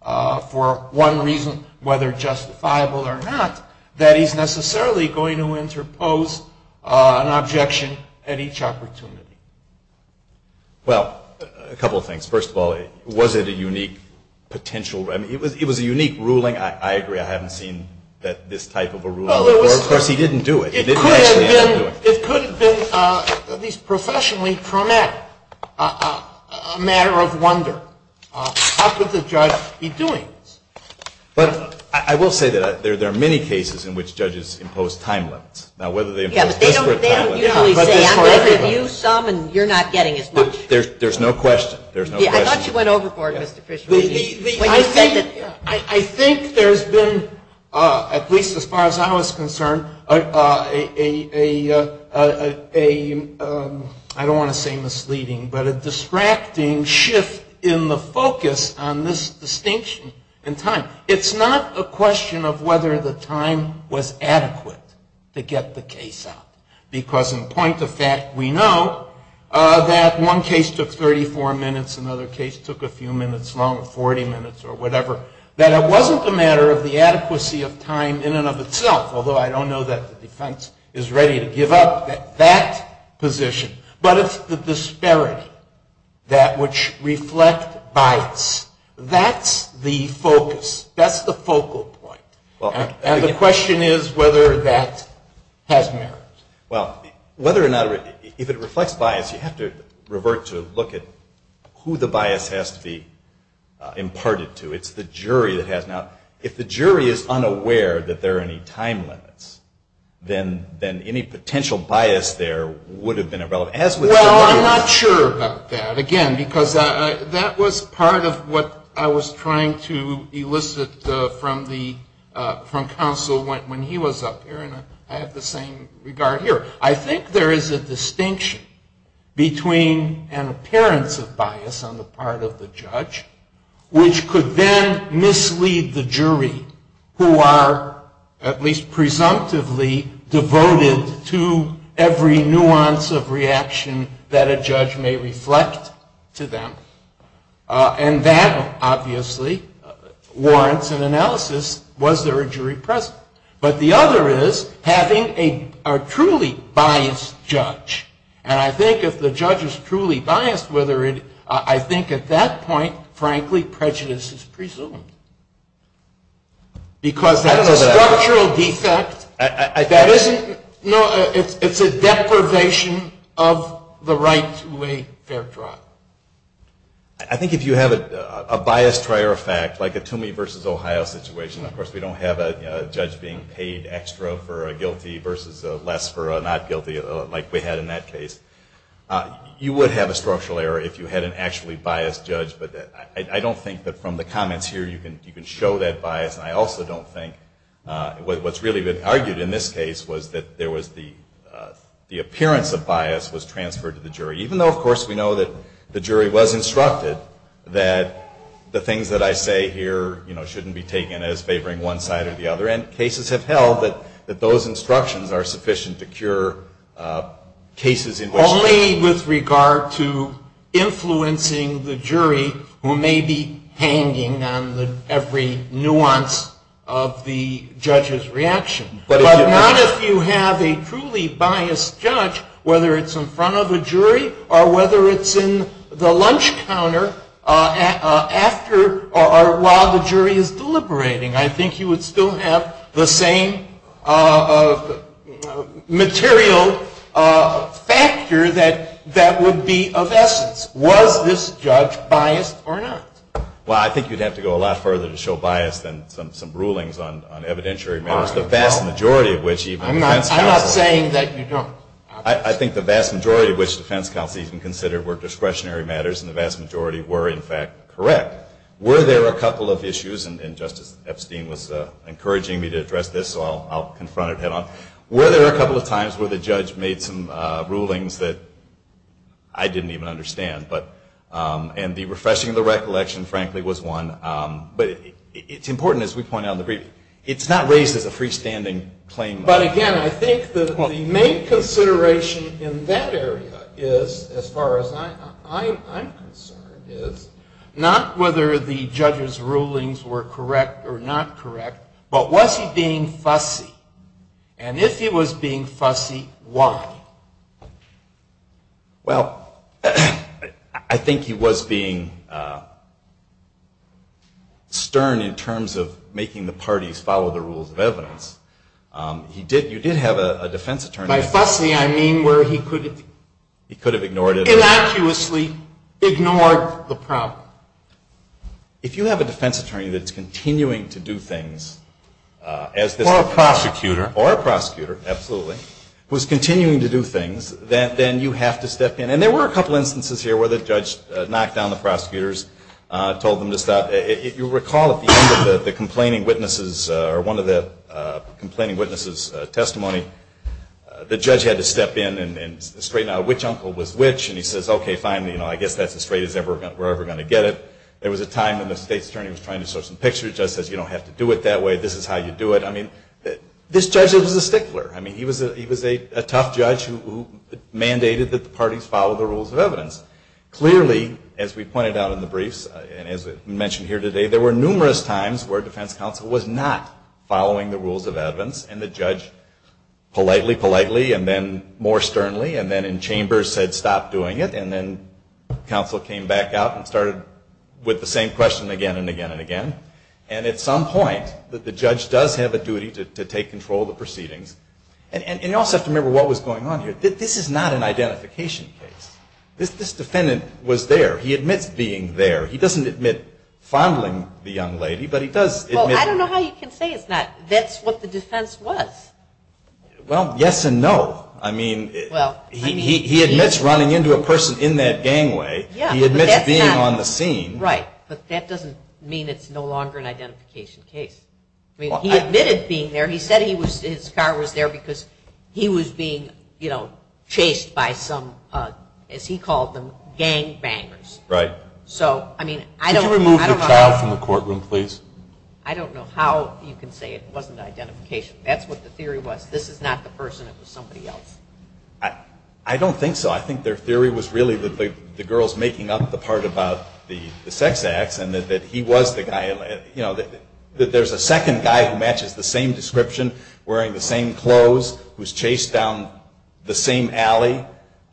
for one reason, whether justifiable or not, that he's necessarily going to interpose an objection at each opportunity. Well, a couple of things. First of all, was it a unique potential, I mean, it was a unique ruling. I agree. I haven't seen this type of a ruling before. Of course, he didn't do it. It could have been at least professionally traumatic, a matter of wonder. How could the judge be doing this? But I will say that there are many cases in which judges impose time limits. Yes, but they don't necessarily say, I'm going to give you some and you're not getting as much. There's no question. I thought you went overboard, Mr. Fischer. I think there's been, at least as far as I was concerned, a, I don't want to say misleading, but a distracting shift in the focus on this distinction in time. It's not a question of whether the time was adequate to get the case out, because in point of fact we know that one case took 34 minutes, another case took a few minutes longer, 40 minutes or whatever, that it wasn't a matter of the adequacy of time in and of itself, although I don't know that the defense is ready to give up that position, but it's the disparity that which reflects bias. That's the focus. That's the focal point. And the question is whether that has merit. Well, whether or not, if it reflects bias, you have to revert to look at who the bias has to be imparted to. It's the jury that has. Now, if the jury is unaware that there are any time limits, then any potential bias there would have been irrelevant. Well, I'm not sure about that, again, because that was part of what I was trying to elicit from counsel when he was up there, and I have the same regard here. I think there is a distinction between an appearance of bias on the part of the judge, which could then mislead the jury, who are at least presumptively devoted to every nuance of reaction that a judge may reflect to them. And that, obviously, warrants an analysis, was there a jury present. But the other is having a truly biased judge. And I think if the judge is truly biased, I think at that point, frankly, prejudice is presumed. Because that's a structural defect. It's a deprivation of the right to a fair trial. I think if you have a biased prior fact, like a Toomey versus Ohio situation, of course we don't have a judge being paid extra for a guilty versus less for a not guilty, like we had in that case. You would have a structural error if you had an actually biased judge, but I don't think that from the comments here you can show that bias. And I also don't think what's really been argued in this case was that there was the appearance of bias was transferred to the jury, even though, of course, we know that the jury was instructed that the things that I say here shouldn't be taken as favoring one side or the other. And cases have held that those instructions are sufficient to cure cases in which... Only with regard to influencing the jury who may be hanging on every nuance of the judge's reaction. But not if you have a truly biased judge, whether it's in front of the jury or whether it's in the lunch counter after or while the jury is deliberating. I think you would still have the same material factor that would be of essence. Was this judge biased or not? Well, I think you'd have to go a lot further to show bias than some rulings on evidentiary matters, the vast majority of which even... I'm not saying that you don't. I think the vast majority of which defense counsel even consider were discretionary matters and the vast majority were, in fact, correct. Were there a couple of issues, and Justice Epstein was encouraging me to address this, so I'll confront it head on. Were there a couple of times where the judge made some rulings that I didn't even understand? And the refreshing of the recollection, frankly, was one. But it's important, as we point out in the brief, it's not raised as a freestanding claim. But, again, I think the main consideration in that area is, as far as I'm concerned, is not whether the judge's rulings were correct or not correct, but was he being fussy? And if he was being fussy, why? Well, I think he was being stern in terms of making the parties follow the rules of evidence. You did have a defense attorney. By fussy, I mean where he could have innocuously ignored the problem. If you have a defense attorney that's continuing to do things... Or a prosecutor. Or a prosecutor, absolutely. Was continuing to do things, then you have to step in. And there were a couple instances here where the judge knocked down the prosecutors, told them to stop. If you recall, at the end of one of the complaining witnesses' testimony, the judge had to step in and straighten out which uncle was which, and he says, okay, fine, I guess that's as straight as we're ever going to get it. There was a time when the state attorney was trying to show some pictures. The judge says, you don't have to do it that way. This is how you do it. This judge isn't a stickler. He was a tough judge who mandated that the parties follow the rules of evidence. Clearly, as we pointed out in the briefs, and as we mentioned here today, there were numerous times where a defense counsel was not following the rules of evidence, and the judge politely, politely, and then more sternly, and then in chambers said stop doing it, and then counsel came back out and started with the same question again and again and again. And at some point, the judge does have a duty to take control of the proceedings. And you also have to remember what was going on here. This is not an identification case. This defendant was there. He admits being there. He doesn't admit fondling the young lady, but he does admit it. Well, I don't know how you can say it's not. That's what the defense was. Well, yes and no. I mean, he admits running into a person in that gangway. He admits being on the scene. Right, but that doesn't mean it's no longer an identification case. I mean, he admitted being there. He said his car was there because he was being, you know, chased by some, as he called them, gangbangers. Right. So, I mean, I don't know. Can you remove your child from the courtroom, please? I don't know how you can say it wasn't identification. That's what the theory was. This is not the person. It was somebody else. I don't think so. I think their theory was really the girl's making up the part about the sex act and that he was the guy. You know, that there's a second guy who matches the same description, wearing the same clothes, who's chased down the same alley.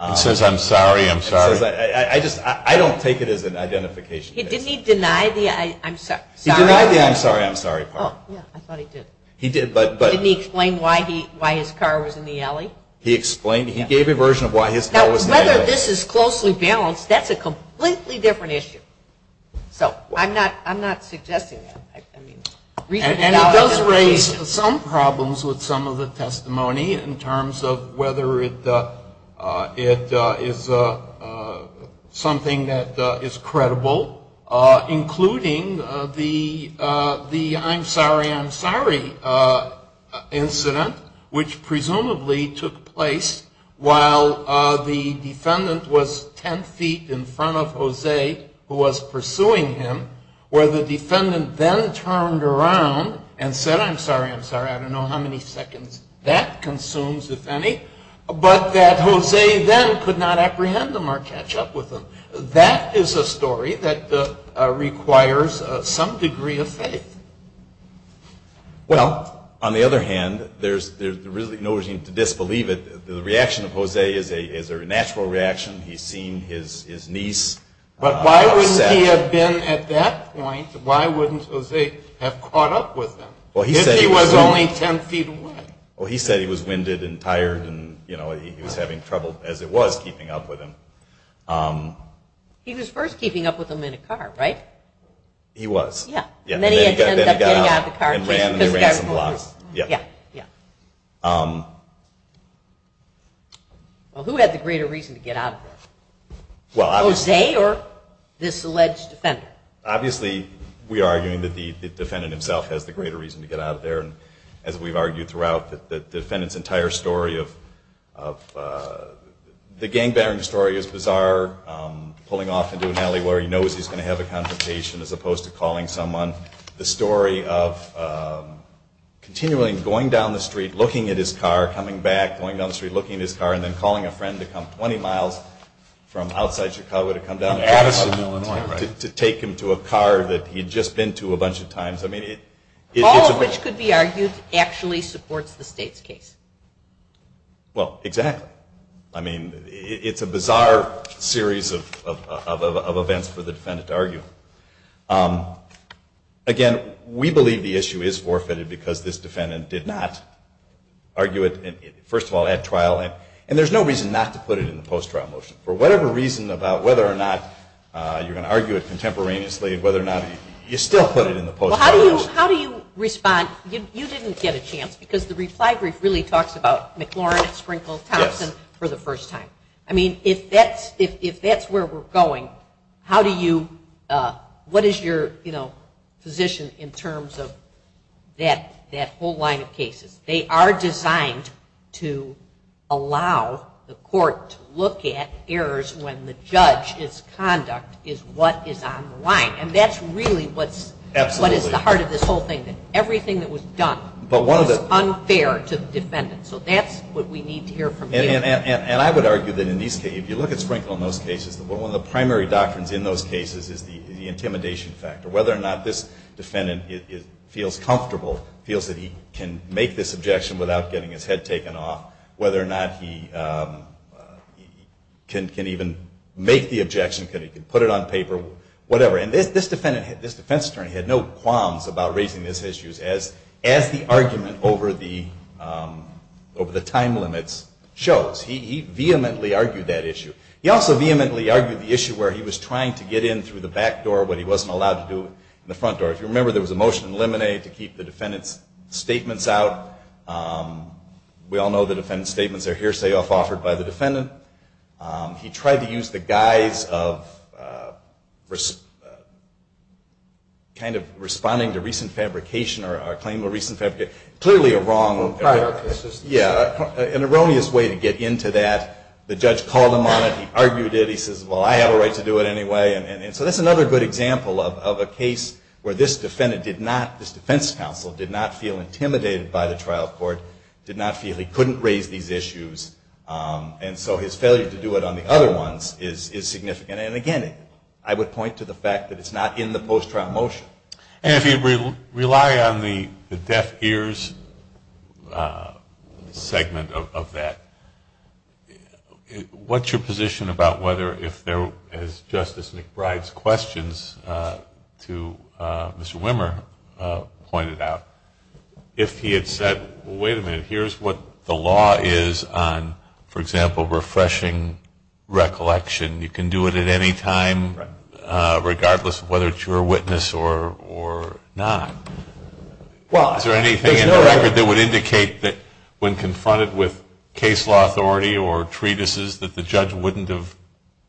He says, I'm sorry, I'm sorry. I don't take it as an identification case. Didn't he deny the, I'm sorry. He denied the, I'm sorry, I'm sorry part. I thought he did. He did, but. Didn't he explain why his car was in the alley? He explained. He gave a version of why his car was in the alley. Now, whether this is closely balanced, that's a completely different issue. So, I'm not suggesting it. And it does raise some problems with some of the testimony in terms of whether it is something that is credible, including the, I'm sorry, I'm sorry incident, which presumably took place while the defendant was ten feet in front of Jose, who was pursuing him, where the defendant then turned around and said, I'm sorry, I'm sorry. I don't know how many seconds that consumes, if any. But that Jose then could not apprehend him or catch up with him. That is a story that requires some degree of faith. Well, on the other hand, there's really no reason to disbelieve it. The reaction of Jose is a natural reaction. He's seen his niece. But why wouldn't he have been at that point? Why wouldn't Jose have caught up with him if he was only ten feet away? Well, he said he was winded and tired and, you know, he was having trouble, as it was, keeping up with him. He was first keeping up with him in a car, right? He was. And then he got out of the car and ran. Yeah. Yeah. Well, who had the greater reason to get out of there? Jose or this alleged defendant? Obviously, we are arguing that the defendant himself has the greater reason to get out of there. And as we've argued throughout, the defendant's entire story of the gang-battling story is bizarre, pulling off into an alley where he knows he's going to have a confrontation as opposed to calling someone. The story of continuing, going down the street, looking at his car, coming back, going down the street, looking at his car, and then calling a friend to come 20 miles from outside Chicago to come down to Addison, Illinois, to take him to a car that he'd just been to a bunch of times. All of which could be argued actually supports the state's case. Well, exactly. I mean, it's a bizarre series of events for the defendant to argue. Again, we believe the issue is forfeited because this defendant did not argue it, first of all, at trial. And there's no reason not to put it in the post-trial motion. For whatever reason about whether or not you're going to argue it contemporaneously, whether or not you still put it in the post-trial motion. Well, how do you respond? You didn't get a chance because the reply brief really talks about McLaurin, Sprinkles, Thompson for the first time. I mean, if that's where we're going, what is your position in terms of that whole line of cases? They are designed to allow the court to look at errors when the judge's conduct is what is on the line. And that's really what's at the heart of this whole thing, that everything that was done was unfair to the defendant. So that's what we need to hear from you. And I would argue that in these cases, if you look at Sprinkle in those cases, one of the primary doctrines in those cases is the intimidation factor. Whether or not this defendant feels comfortable, feels that he can make this objection without getting his head taken off. Whether or not he can even make the objection, can put it on paper, whatever. And this defense attorney had no qualms about raising these issues as the argument over the time limits shows. He vehemently argued that issue. He also vehemently argued the issue where he was trying to get in through the back door when he wasn't allowed to do it in the front door. If you remember, there was a motion to eliminate to keep the defendant's statements out. We all know the defendant's statements are hearsay offered by the defendant. He tried to use the guise of kind of responding to recent fabrication or claiming a recent fabrication. Clearly a wrong characteristic. Yeah, an erroneous way to get into that. The judge called him on it. He argued it. He says, well, I have a right to do it anyway. And so this is another good example of a case where this defendant did not, this defense counsel did not feel intimidated by the trial court, did not feel he couldn't raise these issues. And so his failure to do it on the other ones is significant. And again, I would point to the fact that it's not in the post-trial motion. And if you rely on the deaf ears segment of that, what's your position about whether if there, as Justice McBride's questions to Mr. Wimmer pointed out, if he had said, well, wait a minute, here's what the law is on, for example, refreshing recollection. And you can do it at any time regardless of whether it's your witness or not. Is there anything in the record that would indicate that when confronted with case law authority or treatises that the judge wouldn't have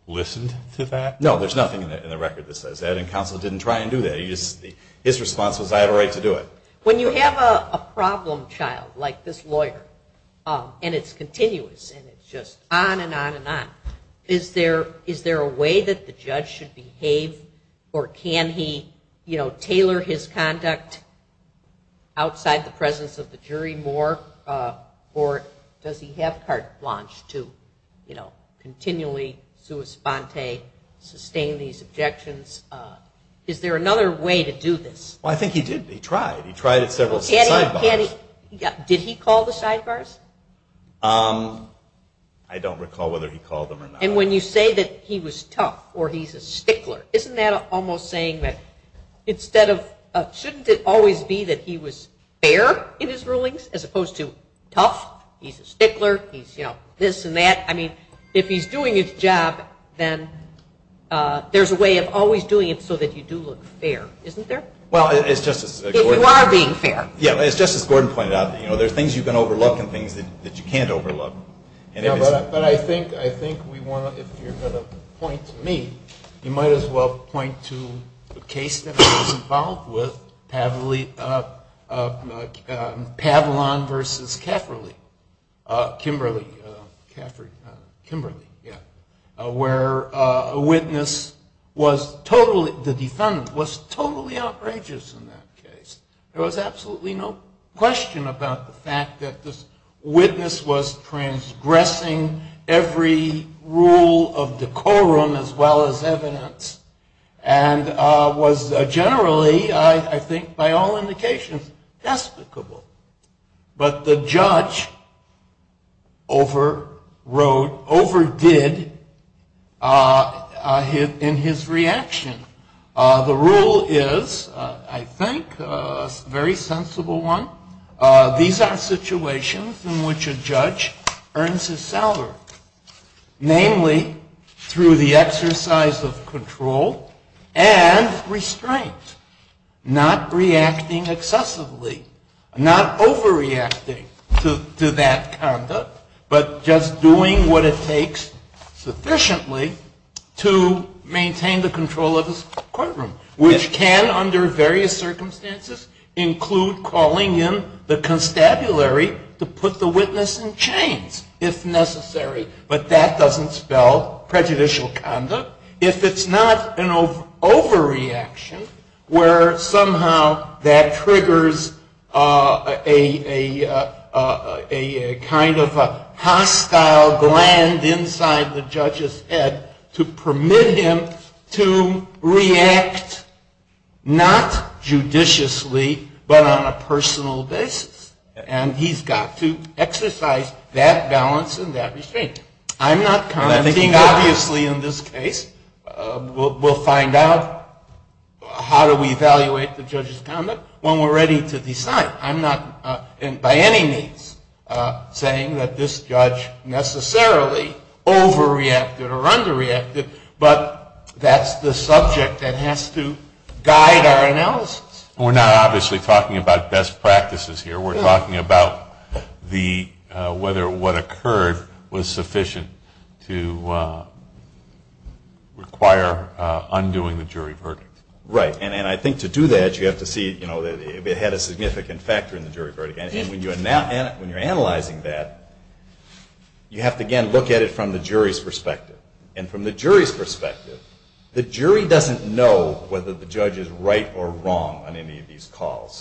listened to that? No, there's nothing in the record that says that. And counsel didn't try and do that. His response was, I have a right to do it. When you have a problem child like this lawyer and it's continuous and it's just on and on and on, is there a way that the judge should behave? Or can he, you know, tailor his conduct outside the presence of the jury more? Or does he have carte blanche to, you know, continually sui sponte, sustain these objections? Is there another way to do this? Well, I think he did. He tried. He tried several times. Did he call the sidebars? I don't recall whether he called them or not. And when you say that he was tough or he's a stickler, isn't that almost saying that instead of, shouldn't it always be that he was fair in his rulings as opposed to tough? He's a stickler. He's, you know, this and that. I mean, if he's doing his job, then there's a way of always doing it so that you do look fair. Isn't there? If you are being fair. There are things that you can't overlook. But I think we want to, if you're going to point to me, you might as well point to the case that I was involved with, Pavlon v. Cafferley. Kimberly. Cafferley. Kimberly. Yeah. Where a witness was totally, the defendant was totally outrageous in that case. There was absolutely no question about the fact that this witness was transgressing every rule of decorum as well as evidence. And was generally, I think by all indications, despicable. But the judge overwrote, overdid in his reaction. The rule is, I think, a very sensible one. These are situations in which a judge earns his salary. Namely, through the exercise of control and restraint. Not reacting excessively. Not overreacting to that conduct. But just doing what it takes sufficiently to maintain the control of the courtroom. Which can, under various circumstances, include calling in the constabulary to put the witness in chains, if necessary. But that doesn't spell prejudicial conduct. If it's not an overreaction, where somehow that triggers a kind of a hostile gland inside the judge's head to permit him to react, not judiciously, but on a personal basis. And he's got to exercise that balance and that restraint. I'm not commenting, obviously, in this case. We'll find out how do we evaluate the judge's conduct when we're ready to decide. I'm not, by any means, saying that this judge necessarily overreacted or underreacted. But that's the subject that has to guide our analysis. We're not, obviously, talking about best practices here. We're talking about whether what occurred was sufficient to require undoing the jury verdict. Right. And I think to do that, you have to see if it had a significant factor in the jury verdict. And when you're analyzing that, you have to, again, look at it from the jury's perspective. And from the jury's perspective, the jury doesn't know whether the judge is right or wrong on any of these calls.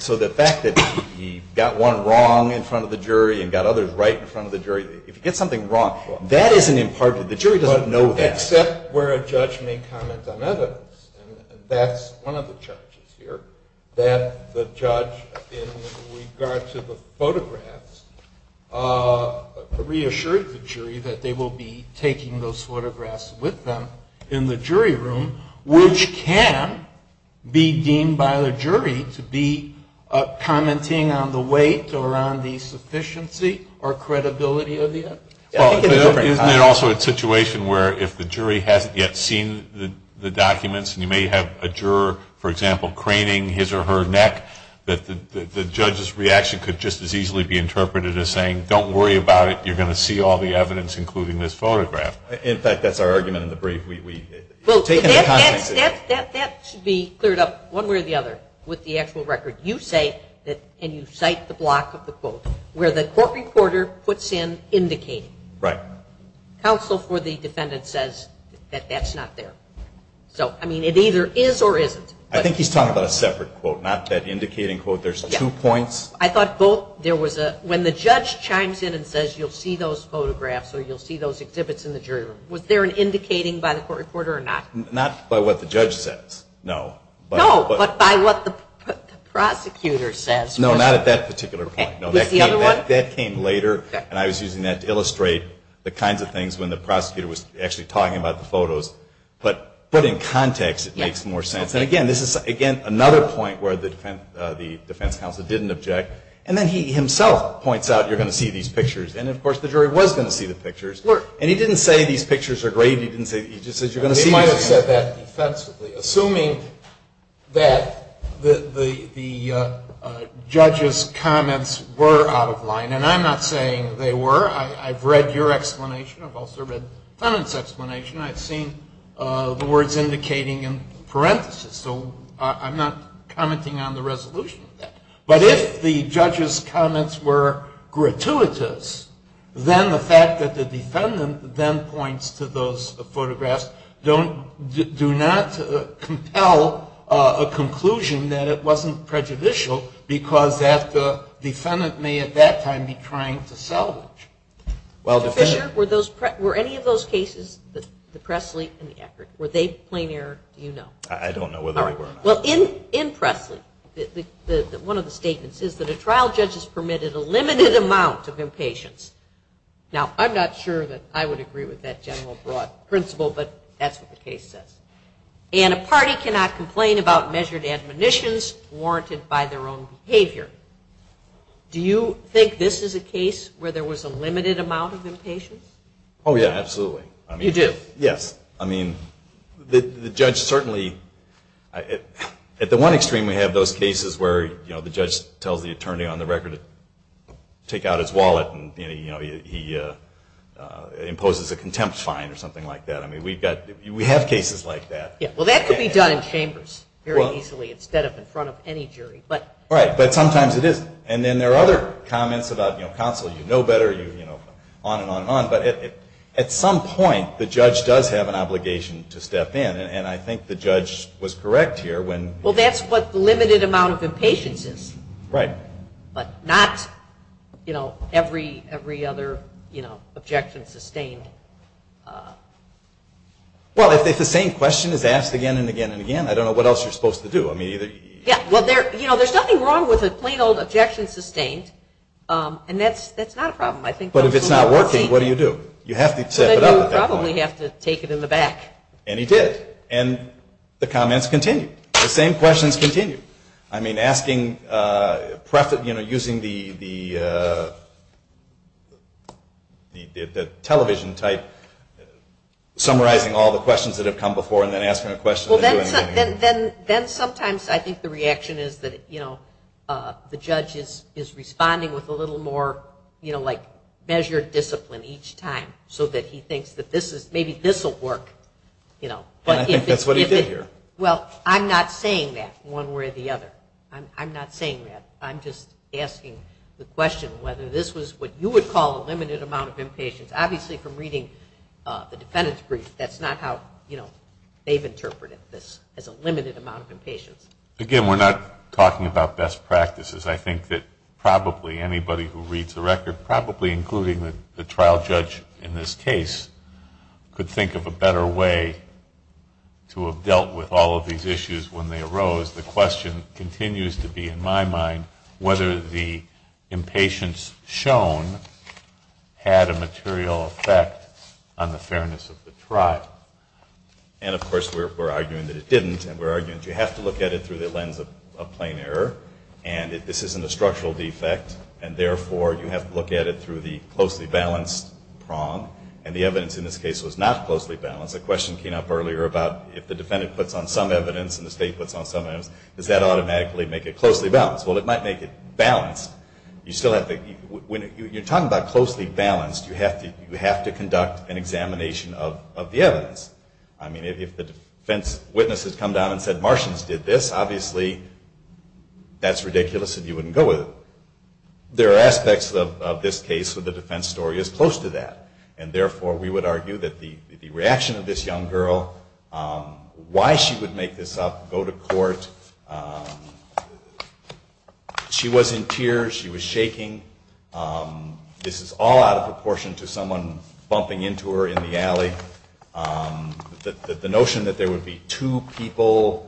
So the fact that he got one wrong in front of the jury and got others right in front of the jury, if you get something wrong, that isn't impartial. The jury doesn't know that. Except where a judge may comment on others. That's one of the charges here, that the judge, in regards to the photographs, reassured the jury that they will be taking those photographs with them in the jury room, which can be deemed by the jury to be commenting on the weight or on the sufficiency or credibility of the evidence. And also a situation where if the jury hadn't yet seen the documents, and you may have a juror, for example, craning his or her neck, that the judge's reaction could just as easily be interpreted as saying, don't worry about it, you're going to see all the evidence, including this photograph. In fact, that's our argument in the brief. That should be cleared up one way or the other with the actual record. You say that, and you cite the block of the quote, where the court recorder puts in indicating. Right. Counsel for the defendant says that that's not there. So, I mean, it either is or isn't. I think he's talking about a separate quote, not that indicating quote. There's two points. I thought both, there was a, when the judge chimes in and says you'll see those photographs or you'll see those exhibits in the jury room, was there an indicating by the court recorder or not? Not by what the judge says, no. No, but by what the prosecutor says. No, not at that particular point. That came later, and I was using that to illustrate the kinds of things when the prosecutor was actually talking about the photos. But in context, it makes more sense. And, again, this is, again, another point where the defense counsel didn't object, and then he himself points out you're going to see these pictures. And, of course, the jury was going to see the pictures. And he didn't say these pictures are great, he just said you're going to see them. I understand that defensively. Assuming that the judge's comments were out of line, and I'm not saying they were. I've read your explanation. I've also read the defendant's explanation. I've seen the words indicating in parentheses. So I'm not commenting on the resolution of that. But if the judge's comments were gratuitous, then the fact that the defendant then points to those photographs do not compel a conclusion that it wasn't prejudicial, because that defendant may at that time be trying to sell it. Well, were any of those cases, the Presley and the Eckert, were they plain error? I don't know whether they were. Well, in Presley, one of the statements is that a trial judge has permitted a limited amount of impatience. Now, I'm not sure that I would agree with that general broad principle, but that's what the case says. And a party cannot complain about measured admonitions warranted by their own behavior. Do you think this is a case where there was a limited amount of impatience? Oh, yeah, absolutely. He did. Yes. I mean, the judge certainly, at the one extreme, we have those cases where the judge tells the attorney on the record to take out his wallet and he imposes a contempt fine or something like that. I mean, we have cases like that. Yeah, well, that could be done in chambers very easily instead of in front of any jury. Right, but sometimes it isn't. And then there are other comments about counsel, you know better, on and on and on. At some point, the judge does have an obligation to step in, and I think the judge was correct here. Well, that's what the limited amount of impatience is. Right. But not every other objection sustained. Well, if it's the same question that's asked again and again and again, I don't know what else you're supposed to do. Yeah, well, there's nothing wrong with a plain old objection sustained, and that's not a problem. But if it's not working, what do you do? You have to tip it out. You probably have to take it in the back. And he did. And the comments continue. The same questions continue. I mean, using the television type, summarizing all the questions that have come before and then asking a question. Well, then sometimes I think the reaction is that, you know, the judge is responding with a little more, you know, like measured discipline each time so that he thinks that maybe this will work, you know. I think that's what he did here. Well, I'm not saying that one way or the other. I'm not saying that. I'm just asking the question whether this was what you would call a limited amount of impatience. Obviously, from reading the defendant's brief, that's not how, you know, they've interpreted this as a limited amount of impatience. Again, we're not talking about best practices. I think that probably anybody who reads the record, probably including the trial judge in this case, could think of a better way to have dealt with all of these issues when they arose. Because the question continues to be, in my mind, whether the impatience shown had a material effect on the fairness of the trial. And, of course, we're arguing that it didn't, and we're arguing that you have to look at it through the lens of plain error, and this isn't a structural defect, and therefore you have to look at it through the closely balanced prong. And the evidence in this case was not closely balanced. The question came up earlier about if the defendant puts on some evidence and the state puts on some evidence, does that automatically make it closely balanced? Well, it might make it balanced. When you're talking about closely balanced, you have to conduct an examination of the evidence. I mean, if the defense witnesses come down and said, Martians did this, obviously that's ridiculous and you wouldn't go with it. There are aspects of this case where the defense story is close to that, and therefore we would argue that the reaction of this young girl, why she would make this up, go to court, she was in tears, she was shaking. This is all out of proportion to someone bumping into her in the alley. The notion that there would be two people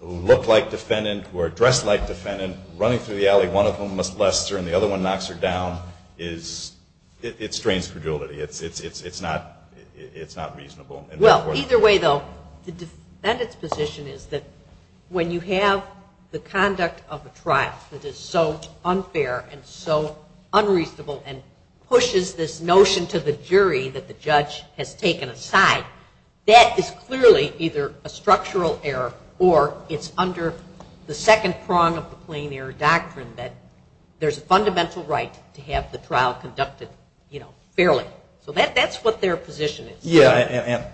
who look like defendant, who are dressed like defendant, running through the alley, one of them must bless her and the other one knocks her down, it strains fragility. It's not reasonable. Well, either way, though, the defendant's position is that when you have the conduct of a trial that is so unfair and so unreasonable and pushes this notion to the jury that the judge has taken aside, that is clearly either a structural error or it's under the second prong of the plain error doctrine that there's fundamental right to have the trial conducted fairly. So that's what their position is. Yeah,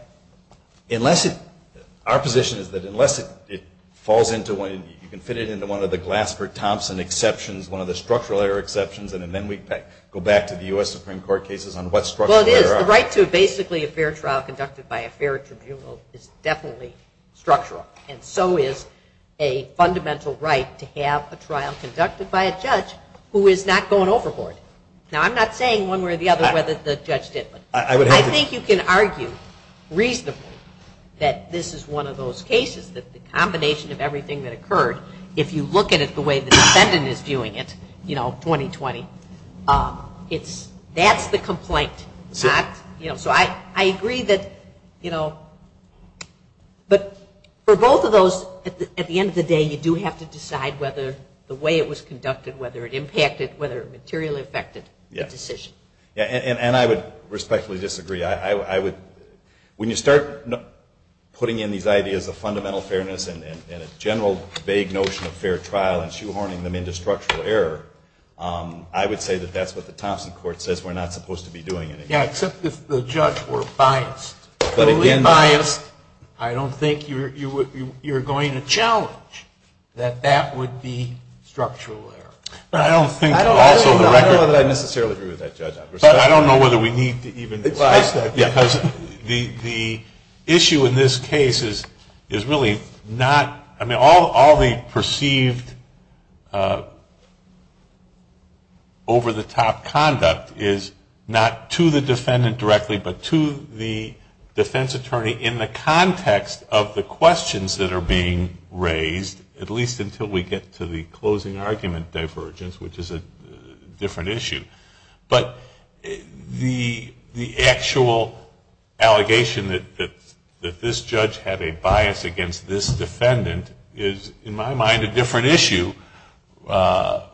and our position is that unless it falls into one, you can fit it into one of the Glassford-Thompson exceptions, one of the structural error exceptions, and then we go back to the U.S. Supreme Court cases on what structural error. The right to basically a fair trial conducted by a fair tribunal is definitely structural, and so is a fundamental right to have a trial conducted by a judge who is not going overboard. Now, I'm not saying one way or the other whether the judge did it. I think you can argue reasonably that this is one of those cases that the combination of everything that occurred, if you look at it the way the defendant is viewing it, you know, 20-20, that's the complaint. So I agree that, you know, but for both of those, at the end of the day, you do have to decide whether the way it was conducted, whether it impacted, whether it materially affected the decision. Yeah, and I would respectfully disagree. When you start putting in these ideas of fundamental fairness and a general vague notion of fair trial and shoehorning them into structural error, I would say that that's what the Thompson court says we're not supposed to be doing. Yeah, except if the judge were biased. But if he's biased, I don't think you're going to challenge that that would be structural error. I don't necessarily agree with that judgment. But I don't know whether we need to even discuss that because the issue in this case is really not – I mean, all the perceived over-the-top conduct is not to the defendant directly, but to the defense attorney in the context of the questions that are being raised, at least until we get to the closing argument divergence, which is a different issue. But the actual allegation that this judge had a bias against this defendant is, in my mind, a different issue. And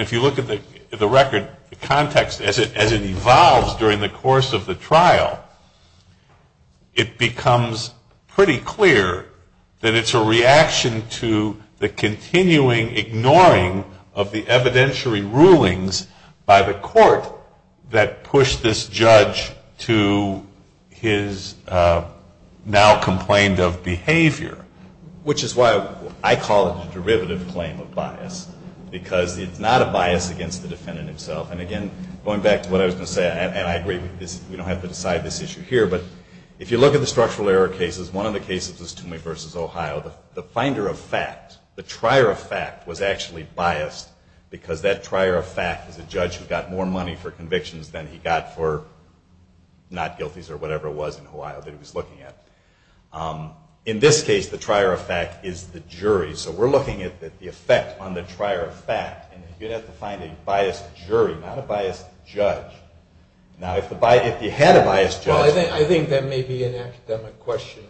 if you look at the record, the context, as it evolves during the course of the trial, it becomes pretty clear that it's a reaction to the continuing ignoring of the evidentiary rulings by the court that pushed this judge to his now-complained-of behavior, which is why I call it a derivative claim of bias because it's not a bias against the defendant himself. And again, going back to what I was going to say, and I agree, we don't have to decide this issue here, but if you look at the structural error cases, one of the cases is Toomey v. Ohio. The finder of fact, the trier of fact, was actually biased because that trier of fact was the judge who got more money for convictions than he got for not guilties or whatever it was in Ohio that he was looking at. In this case, the trier of fact is the jury, so we're looking at the effect on the trier of fact. And you have to find a biased jury, not a biased judge. Now, if you had a biased judge... Well, I think that may be an academic question.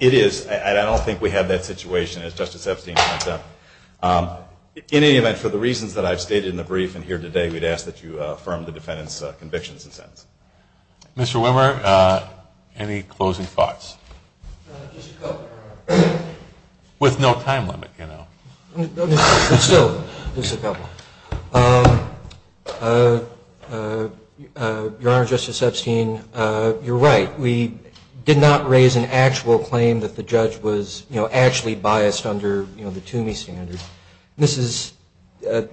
It is, and I don't think we have that situation as Justice Epstein points out. In any event, for the reasons that I've stated in the brief and here today, we'd ask that you affirm the defendant's convictions and sentence. Mr. Wimmer, any closing thoughts? Just a couple, Your Honor. With no time limit, you know. Still, just a couple. Your Honor, Justice Epstein, you're right. We did not raise an actual claim that the judge was actually biased under the Toomey standard. This is,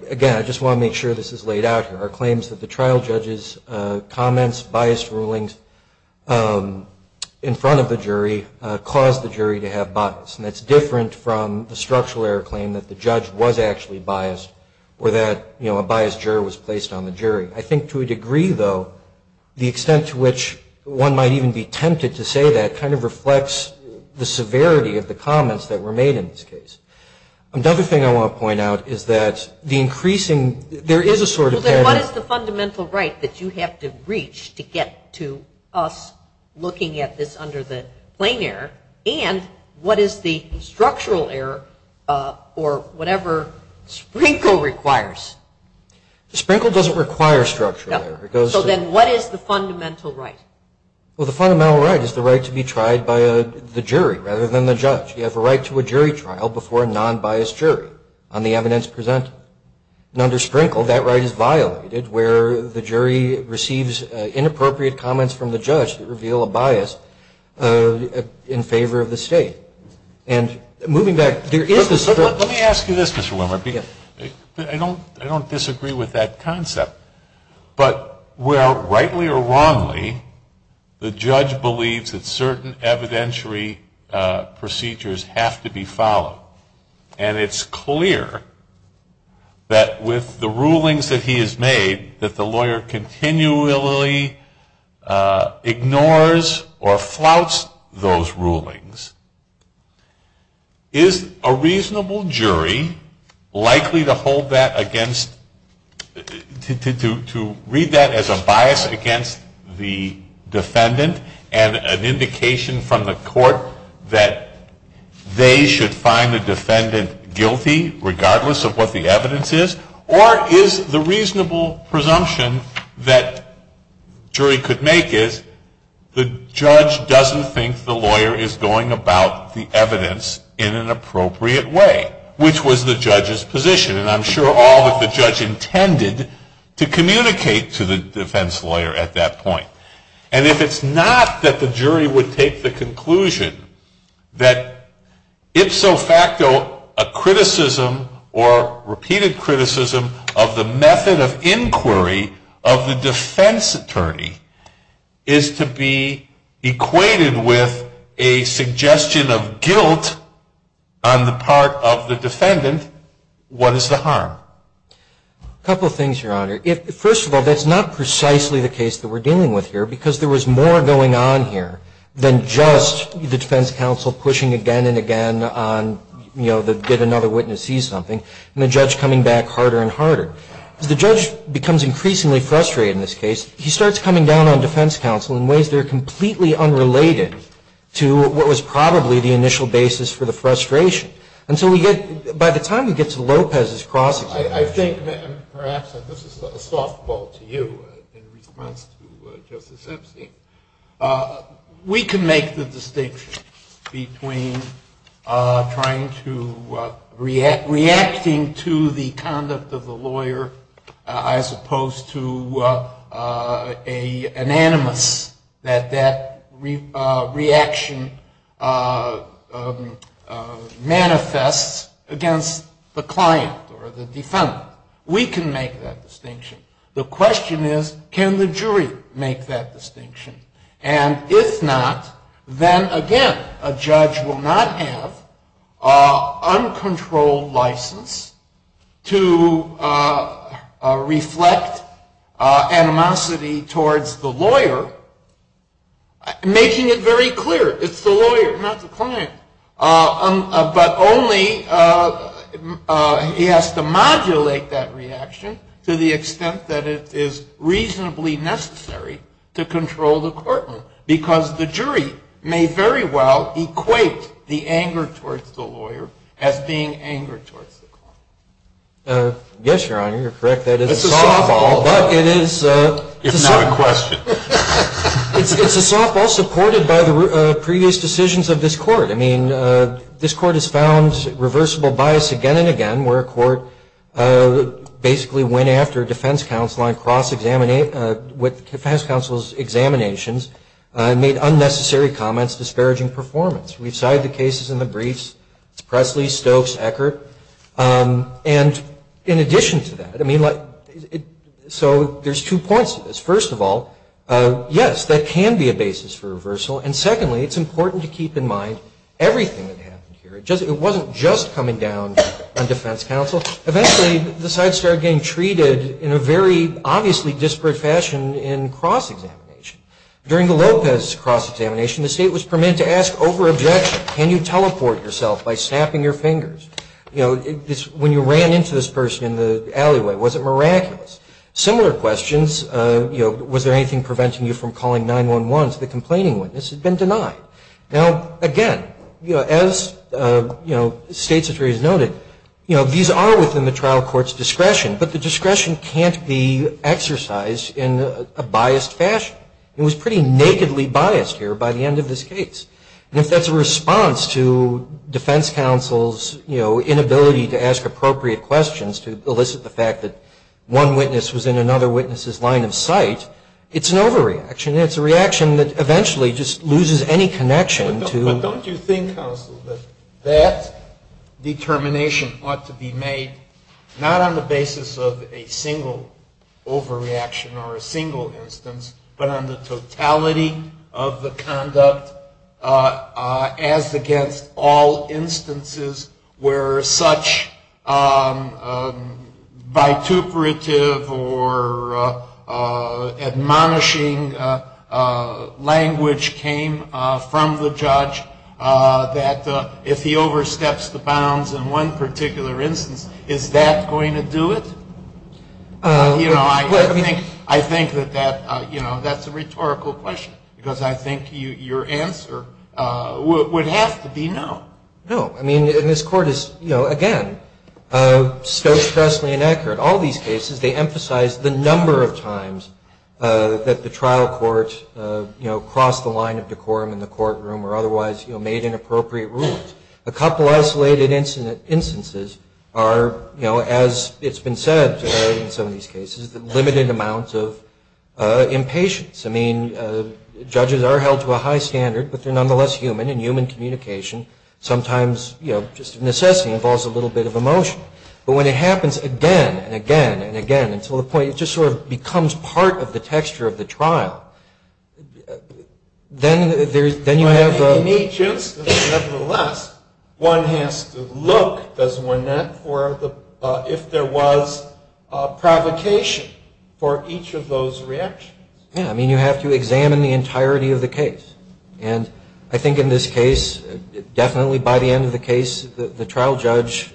again, I just want to make sure this is laid out. Our claims that the trial judge's comments, biased rulings in front of the jury caused the jury to have bias. And that's different from a structural error claim that the judge was actually biased or that, you know, a biased juror was placed on the jury. I think to a degree, though, the extent to which one might even be tempted to say that kind of reflects the severity of the comments that were made in this case. Another thing I want to point out is that the increasing, there is a sort of What is the fundamental right that you have to reach to get to us looking at this under the plain error? And what is the structural error for whatever Sprinkle requires? Sprinkle doesn't require structural error. So then what is the fundamental right? Well, the fundamental right is the right to be tried by the jury rather than the judge. You have the right to a jury trial before a non-biased jury on the evidence presented. Under Sprinkle, that right is violated where the jury receives inappropriate comments from the judge that reveal a bias in favor of the state. And moving back, there is a sort of Let me ask you this, Mr. Wimmer. I don't disagree with that concept. But, well, rightly or wrongly, the judge believes that certain evidentiary procedures have to be followed. And it's clear that with the rulings that he has made, that the lawyer continually ignores or flouts those rulings. Is a reasonable jury likely to read that as a bias against the defendant and an indication from the court that they should find the defendant guilty regardless of what the evidence is? Or is the reasonable presumption that a jury could make is the judge doesn't think the lawyer is going about the evidence in an appropriate way, which was the judge's position. And I'm sure all that the judge intended to communicate to the defense lawyer at that point. And if it's not that the jury would take the conclusion that it's so facto a criticism or repeated criticism of the method of inquiry of the defense attorney is to be equated with a suggestion of guilt on the part of the defendant, what is the harm? A couple of things, Your Honor. First of all, that's not precisely the case that we're dealing with here, because there was more going on here than just the defense counsel pushing again and again on, you know, did another witness see something, and the judge coming back harder and harder. The judge becomes increasingly frustrated in this case. He starts coming down on defense counsel in ways that are completely unrelated to what was probably the initial basis for the frustration. And so by the time he gets to Lopez's process… I think that perhaps this is a softball to you in reference to Joseph Simpson. We can make the distinction between reacting to the conduct of the lawyer as opposed to an animus, that that reaction manifests against the client or the defendant. We can make that distinction. The question is, can the jury make that distinction? And if not, then again, a judge will not have uncontrolled license to reflect animosity towards the lawyer, making it very clear it's the lawyer, not the client. But only he has to modulate that reaction to the extent that it is reasonably necessary to control the courtroom, because the jury may very well equate the anger towards the lawyer as being anger towards the client. Yes, Your Honor, you're correct. That is a softball, but it is… It's not a question. It's a softball supported by the previous decisions of this court. I mean, this court has found reversible bias again and again, where a court basically went after a defense counsel on cross-examination, with defense counsel's examinations, made unnecessary comments disparaging performance. We've cited the cases in the briefs to Presley, Stokes, Eckert. And in addition to that, I mean, so there's two points to this. First of all, yes, there can be a basis for reversal. And secondly, it's important to keep in mind everything that happened here. It wasn't just coming down on defense counsel. Eventually, the side started getting treated in a very obviously disparate fashion in cross-examination. During the Lopez cross-examination, the state was permitted to ask over-objection, can you teleport yourself by snapping your fingers? You know, when you ran into this person in the alleyway, was it miraculous? Similar questions, you know, was there anything preventing you from calling 911? The complaining witness has been denied. Now, again, you know, as, you know, state's attorneys noted, you know, these are within the trial court's discretion, but the discretion can't be exercised in a biased fashion. It was pretty nakedly biased here by the end of this case. And if that's a response to defense counsel's, you know, inability to ask appropriate questions to elicit the fact that one witness was in another witness's line of sight, it's an overreaction. It's a reaction that eventually just loses any connection to- Don't you think, counsel, that that determination ought to be made not on the basis of a single overreaction or a single instance, but on the totality of the conduct as against all instances where such bituperative or admonishing language came from the judge that if he oversteps the bounds in one particular instance, is that going to do it? You know, I think that, you know, that's a rhetorical question because I think your answer would have to be no. No. I mean, this court is, you know, again, so stressfully inaccurate. All these cases, they emphasize the number of times that the trial courts, you know, crossed the line of decorum in the courtroom or otherwise, you know, made inappropriate rulings. A couple isolated instances are, you know, as it's been said in some of these cases, limited amounts of impatience. I mean, judges are held to a high standard, but they're nonetheless human and human communication sometimes, you know, just necessarily involves a little bit of emotion. But when it happens again and again and again until the point it just sort of becomes part of the texture of the trial, then you have a... In each instance, nevertheless, one has to look, does one not, for if there was provocation for each of those reactions. Yeah. I mean, you have to examine the entirety of the case. And I think in this case, definitely by the end of the case, the trial judge,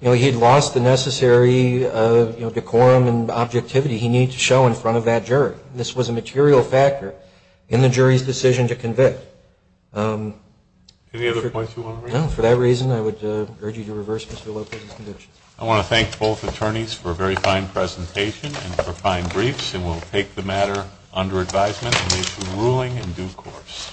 you know, he had lost the necessary, you know, decorum and objectivity he needed to show in front of that jury. And this was a material factor in the jury's decision to convict. Any other points you want to make? No. For that reason, I would urge you to reverse Mr. Lopez's conviction. I want to thank both attorneys for a very fine presentation and for fine briefs. And we'll take the matter under advisement and make a ruling in due course. Thank you.